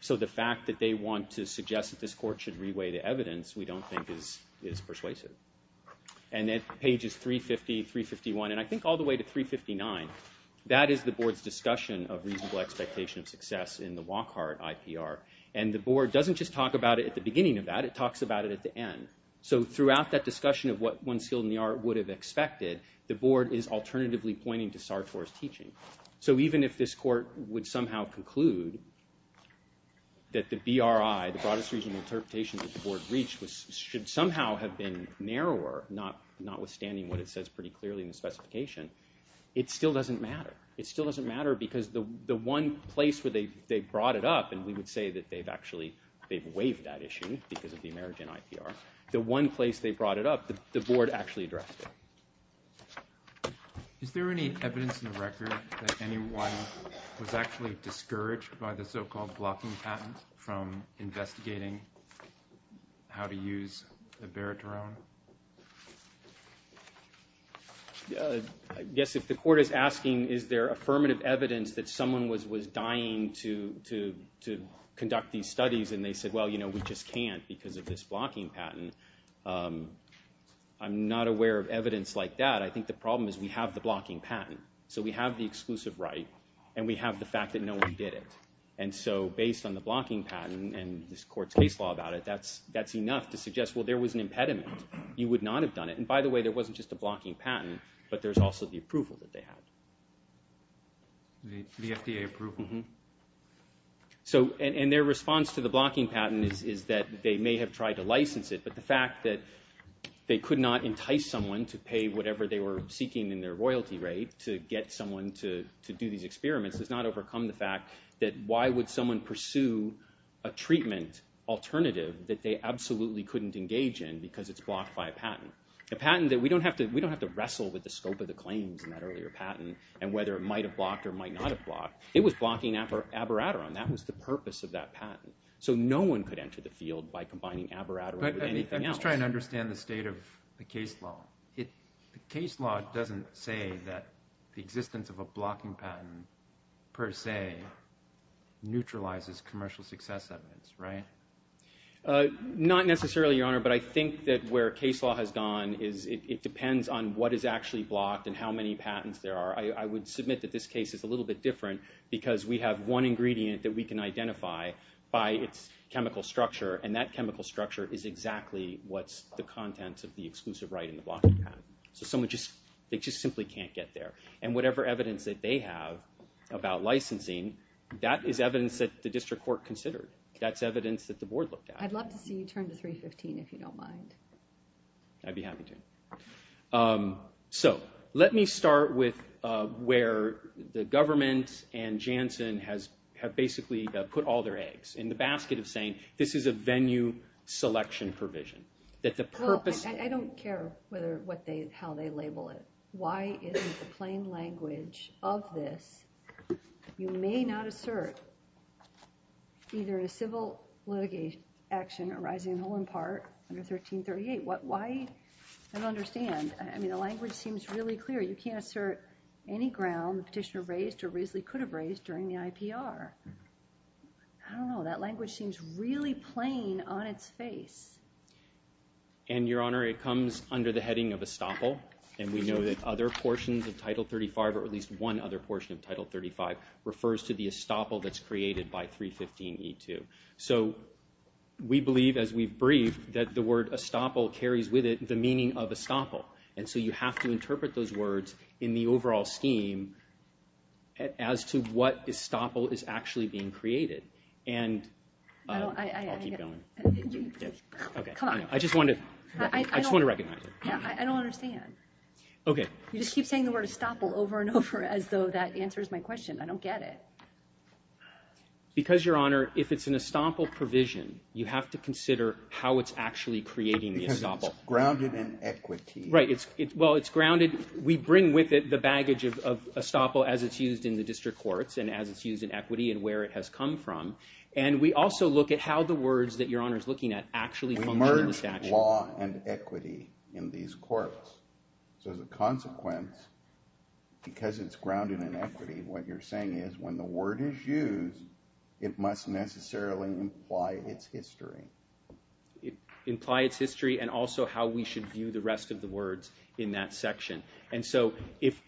So the fact that they want to suggest that this court should reweigh the evidence we don't think is persuasive. And at pages 350, 351, and I think all the way to 359, that is the board's discussion of reasonable expectation of success in the Wachhart IPR. And the board doesn't just talk about it at the beginning of that, it talks about it at the end. So throughout that discussion of what one skilled in the art would have expected, the board is alternatively pointing to SARTA as teaching. So even if this court would somehow conclude that the BRI, the broadest reasonable interpretation that the board reached, should somehow have been narrower, notwithstanding what it says pretty clearly in the specification, it still doesn't matter. It still doesn't matter because the one place where they brought it up, and we would say that they've actually waived that issue because of the emergent IPR, the one place they brought it up, the board actually addressed it. Is there any evidence in the record that anyone was actually discouraged by the so-called blocking patent from investigating how to use the Barrett drone? Yes, if the court is asking is there affirmative evidence that someone was dying to conduct these studies and they said, well, you know, we just can't because of this blocking patent, I'm not aware of evidence like that. I think the problem is we have the blocking patent. So we have the exclusive right and we have the fact that no one did it. And so based on the blocking patent and this court's case law about it, that's enough to suggest, well, there was an impediment. You would not have done it. And by the way, there wasn't just a blocking patent, but there's also the approval that they have. The FDA approval? Mm-hmm. And their response to the blocking patent is that they may have tried to license it, but the fact that they could not entice someone to pay whatever they were seeking in their royalty rate to get someone to do the experiment does not overcome the fact that why would someone pursue a treatment alternative that they absolutely couldn't engage in because it's blocked by a patent? We don't have to wrestle with the scope of the claims in that earlier patent and whether it might have blocked or might not have blocked. It was blocking abiraterone. That was the purpose of that patent. So no one could enter the field by combining abiraterone with anything else. I'm just trying to understand the state of the case law. The case law doesn't say that the existence of a blocking patent per se neutralizes commercial success evidence, right? Not necessarily, Your Honor, but I think that where case law has gone, it depends on what is actually blocked and how many patents there are. I would submit that this case is a little bit different because we have one ingredient that we can identify by its chemical structure, and that chemical structure is exactly what's the contents of the exclusive right in the blocking patent. So they just simply can't get there. And whatever evidence that they have about licensing, that is evidence that the district court considered. That's evidence that the board looked at. I'd love to see you turn to 315 if you don't mind. I'd be happy to. So let me start with where the government and Janssen have basically put all their eggs in the basket of saying, this is a venue selection provision. I don't care how they label it. Why is this plain language of this? You may not assert either a civil litigation action arising in Holland Park under 1338. Why? I don't understand. I mean, the language seems really clear. You can't assert any ground the petitioner raised or reasonably could have raised during the IPR. I don't know. That language seems really plain on its face. And, Your Honor, it comes under the heading of estoppel, and we know that other portions of Title 35, or at least one other portion of Title 35, refers to the estoppel that's created by 315E2. So we believe, as we've briefed, that the word estoppel carries with it the meaning of estoppel. And so you have to interpret those words in the overall scheme as to what estoppel is actually being created. I'll keep going. I just want to recognize it. I don't understand. Okay. You just keep saying the word estoppel over and over as though that answers my question. I don't get it. Because, Your Honor, if it's an estoppel provision, you have to consider how it's actually creating the estoppel. Because it's grounded in equity. Right. Well, it's grounded. We bring with it the baggage of estoppel as it's used in the district courts and as it's used in equity and where it has come from. And we also look at how the words that Your Honor is looking at actually emerge in the statute. Emerge in law and equity in these courts. So the consequence, because it's grounded in equity, what you're saying is when the word is used, it must necessarily imply its history. It implies history and also how we should view the rest of the words in that section. And so if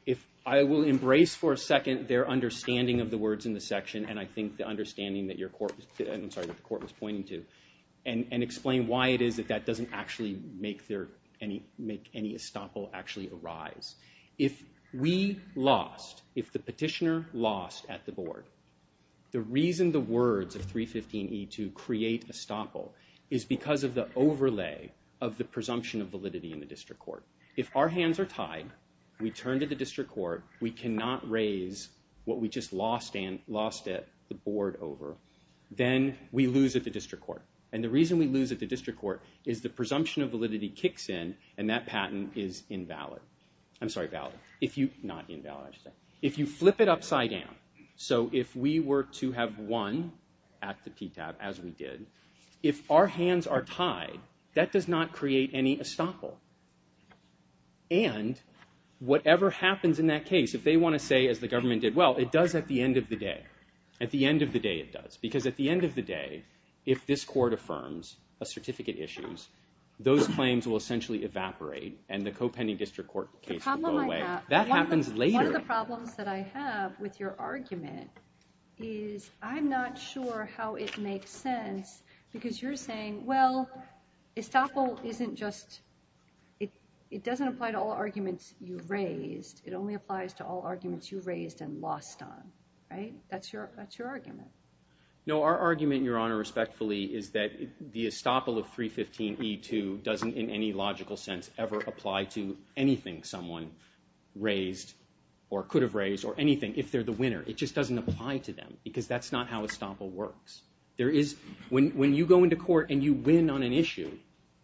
I will embrace for a second their understanding of the words in the section and I think the understanding that the court was pointing to and explain why it is that that doesn't actually make any estoppel actually arise. If we lost, if the petitioner lost at the board, the reason the words of 315E2 create estoppel is because of the overlay of the presumption of validity in the district court. If our hands are tied, we turn to the district court, we cannot raise what we just lost at the board over, then we lose at the district court. And the reason we lose at the district court is the presumption of validity kicks in and that patent is invalid. I'm sorry, valid. If you flip it upside down, so if we were to have one at the TTAP as we did, if our hands are tied, that does not create any estoppel. And whatever happens in that case, if they want to say, as the government did, well, it does at the end of the day. At the end of the day, it does. Because at the end of the day, if this court affirms a certificate issues, those claims will essentially evaporate and the co-pending district court case will go away. That happens later. One of the problems that I have with your argument is I'm not sure how it makes sense because you're saying, well, estoppel isn't just, it doesn't apply to all arguments you raise. It only applies to all arguments you raise and lost on, right? That's your argument. No, our argument, Your Honor, respectfully, is that the estoppel of 315E2 doesn't in any logical sense ever apply to anything someone raised or could have raised or anything if they're the winner. It just doesn't apply to them because that's not how estoppel works. There is, when you go into court and you win on an issue,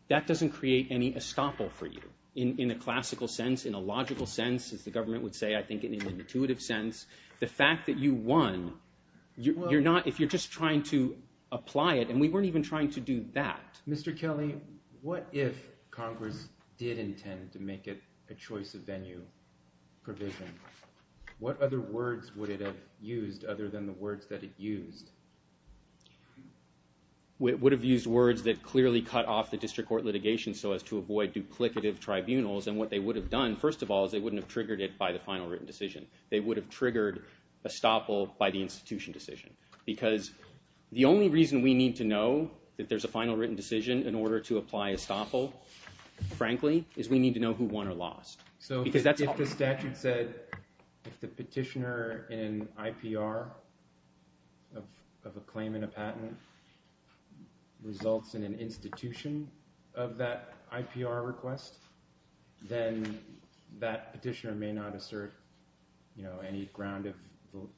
that doesn't create any estoppel for you in a classical sense, in a logical sense, as the government would say, I think, in an intuitive sense. The fact that you won, you're not, if you're just trying to apply it, and we weren't even trying to do that. Mr. Kelly, what if Congress did intend to make it a choice of venue provision? What other words would it have used other than the words that it used? It would have used words that clearly cut off the district court litigation so as to avoid duplicative tribunals, and what they would have done, first of all, is they wouldn't have triggered it by the final written decision. They would have triggered estoppel by the institution decision because the only reason we need to know that there's a final written decision in order to apply estoppel, frankly, is we need to know who won or lost. So if the statute says if the petitioner in IPR of a claim in a patent results in an institution of that IPR request, then that petitioner may not assert any grounded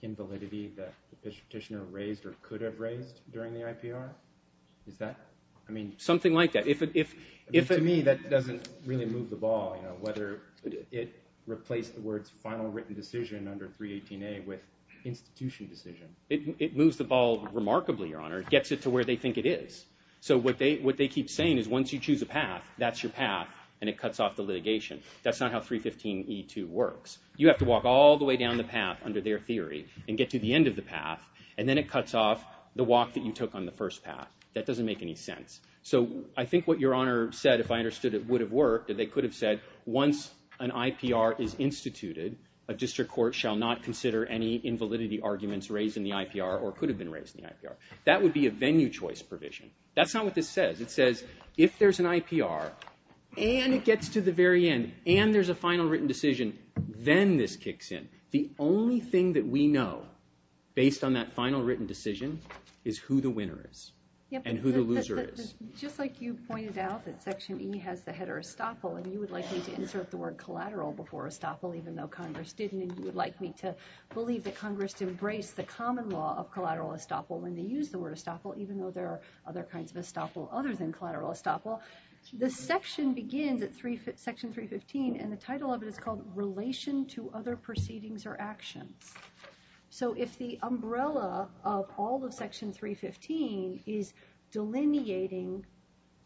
invalidity that this petitioner raised or could have raised during the IPR? Is that, I mean... Something like that. To me, that doesn't really move the ball, whether it replaced the words final written decision under 318A with institution decision. It moves the ball remarkably, Your Honor. It gets it to where they think it is. So what they keep saying is once you choose a path, that's your path, and it cuts off the litigation. That's not how 315E2 works. You have to walk all the way down the path under their theory and get to the end of the path, and then it cuts off the walk that you took on the first path. That doesn't make any sense. So I think what Your Honor said, if I understood it would have worked, is they could have said once an IPR is instituted, a district court shall not consider any invalidity arguments raised in the IPR or could have been raised in the IPR. That would be a venue choice provision. That's not what this says. It says if there's an IPR, and it gets to the very end, and there's a final written decision, then this kicks in. The only thing that we know based on that final written decision is who the winner is and who the loser is. Just like you pointed out that Section E has the header estoppel, and you would like me to insert the word collateral before estoppel even though Congress didn't, and you would like me to believe that Congress embraced the common law of collateral estoppel when they used the word estoppel, even though there are other kinds of estoppel other than collateral estoppel, the section begins at Section 315, and the title of it is called Relation to Other Proceedings or Actions. So if the umbrella of all of Section 315 is delineating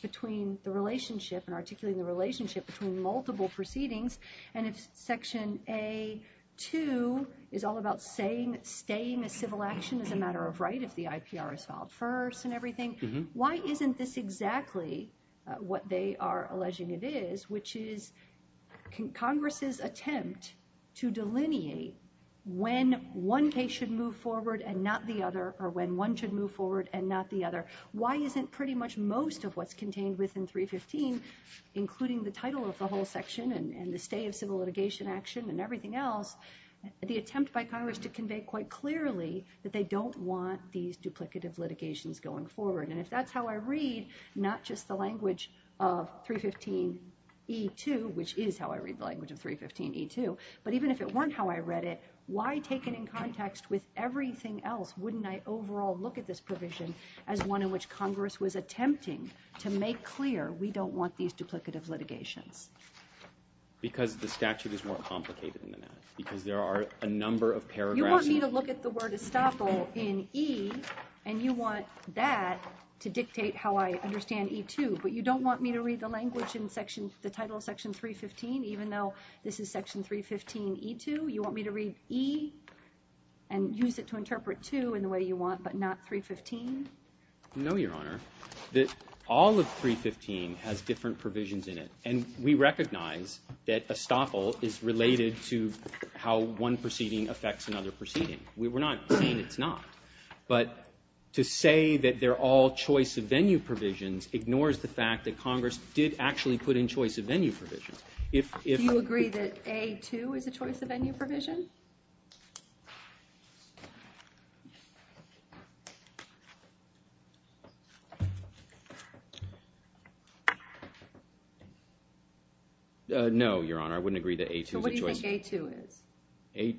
between the relationship and articulating the relationship between multiple proceedings, and if Section A2 is all about saying that staying a civil action is a matter of right if the IPR is filed first and everything, why isn't this exactly what they are alleging it is, which is Congress's attempt to delineate when one case should move forward and not the other, or when one should move forward and not the other. Why isn't pretty much most of what's contained within 315, including the title of the whole section and the stay of civil litigation action and everything else, the attempt by Congress to convey quite clearly that they don't want these duplicative litigations going forward. And if that's how I read, not just the language of 315E2, which is how I read the language of 315E2, but even if it weren't how I read it, why take it in context with everything else? Wouldn't I overall look at this provision as one in which Congress was attempting to make clear we don't want these duplicative litigations? Because the statute is more complicated than that. Because there are a number of paragraphs... You want me to look at the word estoppel in E, and you want that to dictate how I understand E2, but you don't want me to read the language in the title of section 315, even though this is section 315E2? You want me to read E and use it to interpret 2 in the way you want, but not 315? No, Your Honor. All of 315 has different provisions in it. And we recognize that estoppel is related to how one proceeding affects another proceeding. We're not saying it's not. But to say that they're all choice of venue provisions ignores the fact that Congress did actually put in choice of venue provisions. Do you agree that A2 is a choice of venue provision? No, Your Honor, I wouldn't agree that A2 is a choice. So what do you think A2 is? A...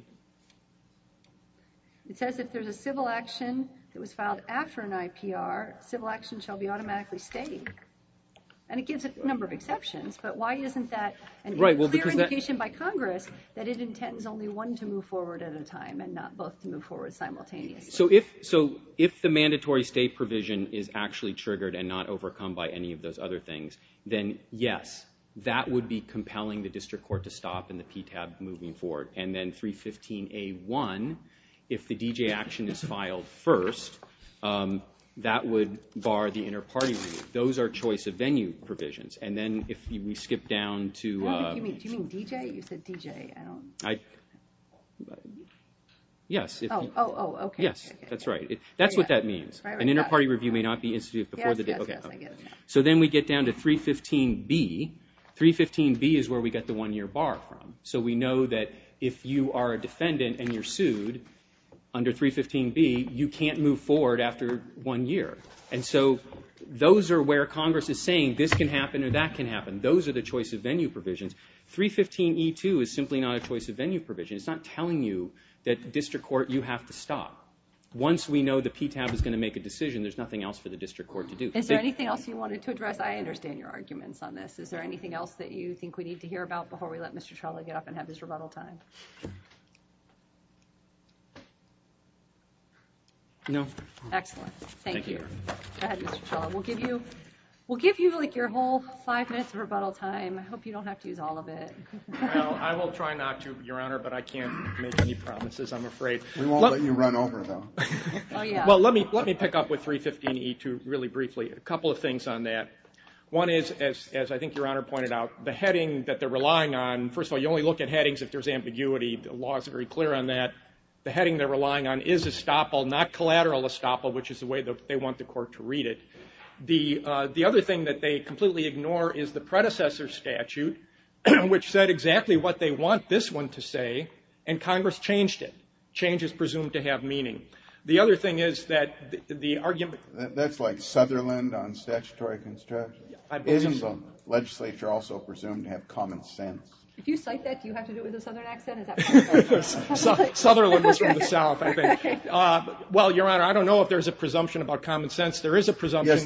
It says if there's a civil action that was filed after an IPR, civil action shall be automatically stayed. And it gives a number of exceptions, but why isn't that an indication by Congress that its intent was only one to move forward at a time and not both move forward simultaneously? If it's a civil action triggered and not overcome by any of those other things, then yes, that would be compelling the district court to stop in the PTAB moving forward. And then 315A1, if the DJ action is filed first, that would bar the inter-party review. Those are choice of venue provisions. And then if we skip down to... Do you mean DJ? It says DJ. Yes. Oh, okay. Yes, that's right. That's what that means. An inter-party review may not be instituted before the date. Okay. So then we get down to 315B. 315B is where we get the one-year bar from. So we know that if you are a defendant and you're sued under 315B, you can't move forward after one year. And so those are where Congress is saying this can happen or that can happen. Those are the choice of venue provisions. 315E2 is simply not a choice of venue provision. It's not telling you that the district court, you have to stop. Once we know the PTAB is going to make a decision, there's nothing else for the district court to do. Is there anything else you wanted to address? I understand your arguments on this. Is there anything else that you think we need to hear about before we let Mr. Trella get up and have his rebuttal time? No. Excellent. Thank you. Go ahead, Mr. Trella. We'll give you, like, your whole five minutes of rebuttal time. I hope you don't have to use all of it. I will try not to, Your Honor, but I can't make any promises, I'm afraid. We won't let you run over, though. Well, let me pick up with 315E2 really briefly. A couple of things on that. One is, as I think Your Honor pointed out, the heading that they're relying on, first of all, you only look at headings if there's ambiguity. The law is very clear on that. The heading they're relying on is estoppel, not collateral estoppel, which is the way they want the court to read it. The other thing that they completely ignore is the predecessor statute, which said exactly what they want this one to say, and Congress changed it. Change is presumed to have meaning. The other thing is that the argument – That's like Sutherland on statutory construction. Isn't the legislature also presumed to have common sense? If you cite that, do you have to do it with a Southern accent? Sutherland is from the South, I think. Well, Your Honor, I don't know if there's a presumption about common sense. There is a presumption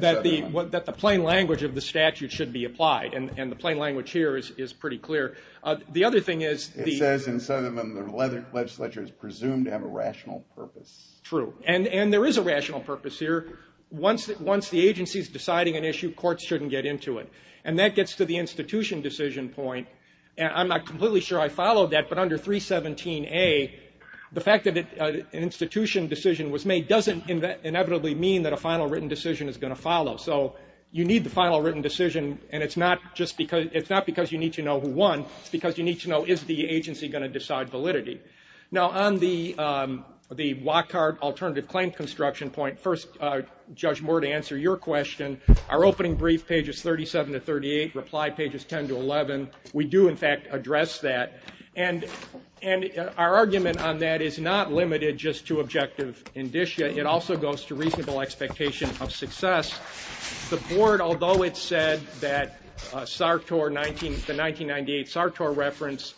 that the plain language of the statute should be applied, and the plain language here is pretty clear. The other thing is – It says in Sutherland that the legislature is presumed to have a rational purpose. True. And there is a rational purpose here. Once the agency is deciding an issue, courts shouldn't get into it. And that gets to the institution decision point, and I'm not completely sure I followed that, but under 317A, the fact that an institution decision was made doesn't inevitably mean that a final written decision is going to follow. So you need the final written decision, and it's not because you need to know who won. It's because you need to know, is the agency going to decide validity? Now, on the block card alternative claim construction point, first, Judge Moore, to answer your question, our opening brief, pages 37 to 38, reply pages 10 to 11, we do, in fact, address that. And our argument on that is not limited just to objective indicia. It also goes to reasonable expectation of success. The board, although it said that SARTOR, the 1998 SARTOR reference,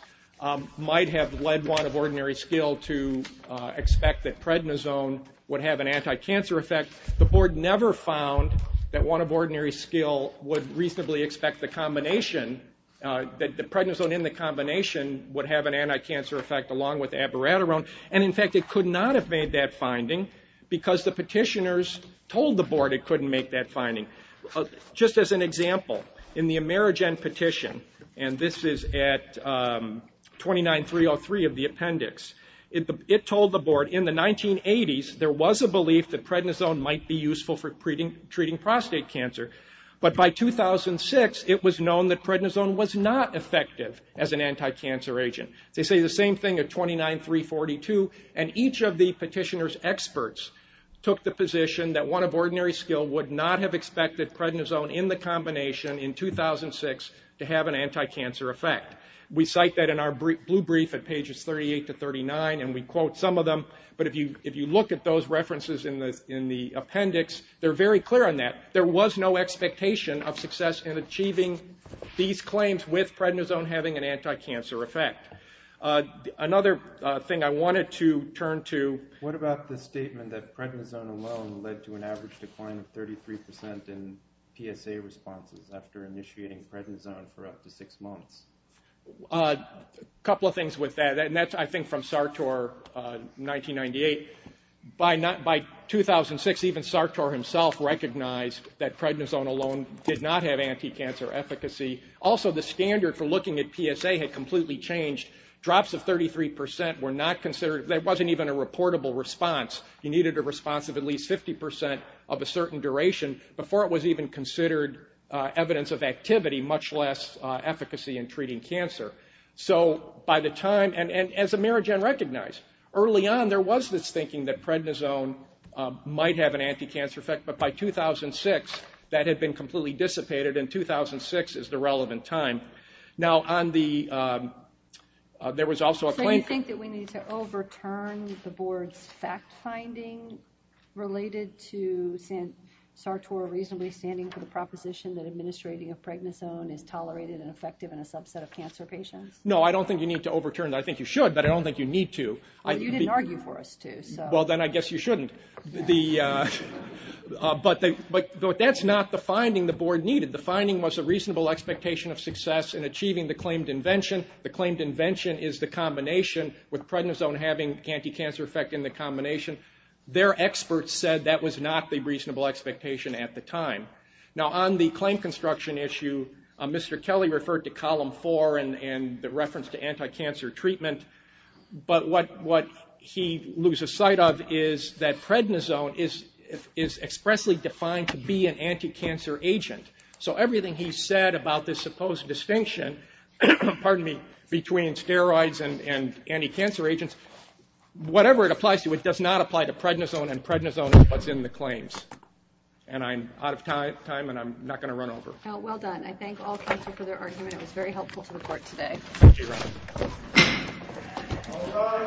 might have led one of ordinary skill to expect that prednisone would have an anti-cancer effect, the board never found that one of ordinary skill would reasonably expect the combination, that the prednisone in the combination would have an anti-cancer effect along with abiraterone. And, in fact, it could not have made that finding because the petitioners told the board it couldn't make that finding. Just as an example, in the Amerigen petition, and this is at 29.303 of the appendix, it told the board in the 1980s there was a belief that prednisone might be useful for treating prostate cancer, but by 2006 it was known that prednisone was not effective as an anti-cancer agent. They say the same thing at 29.342, and each of the petitioners' experts took the position that one of ordinary skill would not have expected prednisone in the combination in 2006 to have an anti-cancer effect. We cite that in our blue brief at pages 38 to 39, and we quote some of them, but if you look at those references in the appendix, they're very clear on that. There was no expectation of success in achieving these claims with prednisone having an anti-cancer effect. Another thing I wanted to turn to. What about the statement that prednisone alone led to an average decline of 33 percent in PSA responses after initiating prednisone for up to six months? A couple of things with that, and that's, I think, from Sartor, 1998. By 2006, even Sartor himself recognized that prednisone alone did not have anti-cancer efficacy. Also, the standard for looking at PSA had completely changed. Drops of 33 percent were not considered. There wasn't even a reportable response. You needed a response of at least 50 percent of a certain duration before it was even considered evidence of activity, much less efficacy in treating cancer. By the time, and as Amerigen recognized, early on there was this thinking that prednisone might have an anti-cancer effect, but by 2006 that had been completely dissipated, and 2006 is the relevant time. Now, there was also a claim. Do you think that we need to overturn the board's fact-finding related to Sartor reasonably standing for the proposition that administrating a prednisone is tolerated and effective in a subset of cancer patients? No, I don't think you need to overturn that. I think you should, but I don't think you need to. You didn't argue for us to. Well, then I guess you shouldn't. But that's not the finding the board needed. The finding was a reasonable expectation of success in achieving the claimed invention. The claimed invention is the combination with prednisone having anti-cancer effect in the combination. Their experts said that was not the reasonable expectation at the time. Now, on the claim construction issue, Mr. Kelly referred to Column 4 and the reference to anti-cancer treatment, but what he loses sight of is that prednisone is expressly defined to be an anti-cancer agent. So everything he said about this supposed distinction between steroids and anti-cancer agents, whatever it applies to, it does not apply to prednisone, and prednisone plugs in the claims. And I'm out of time, and I'm not going to run over. Well done. I thank all plaintiffs for their argument. It was very helpful for the court today. Thank you, Ron. All done.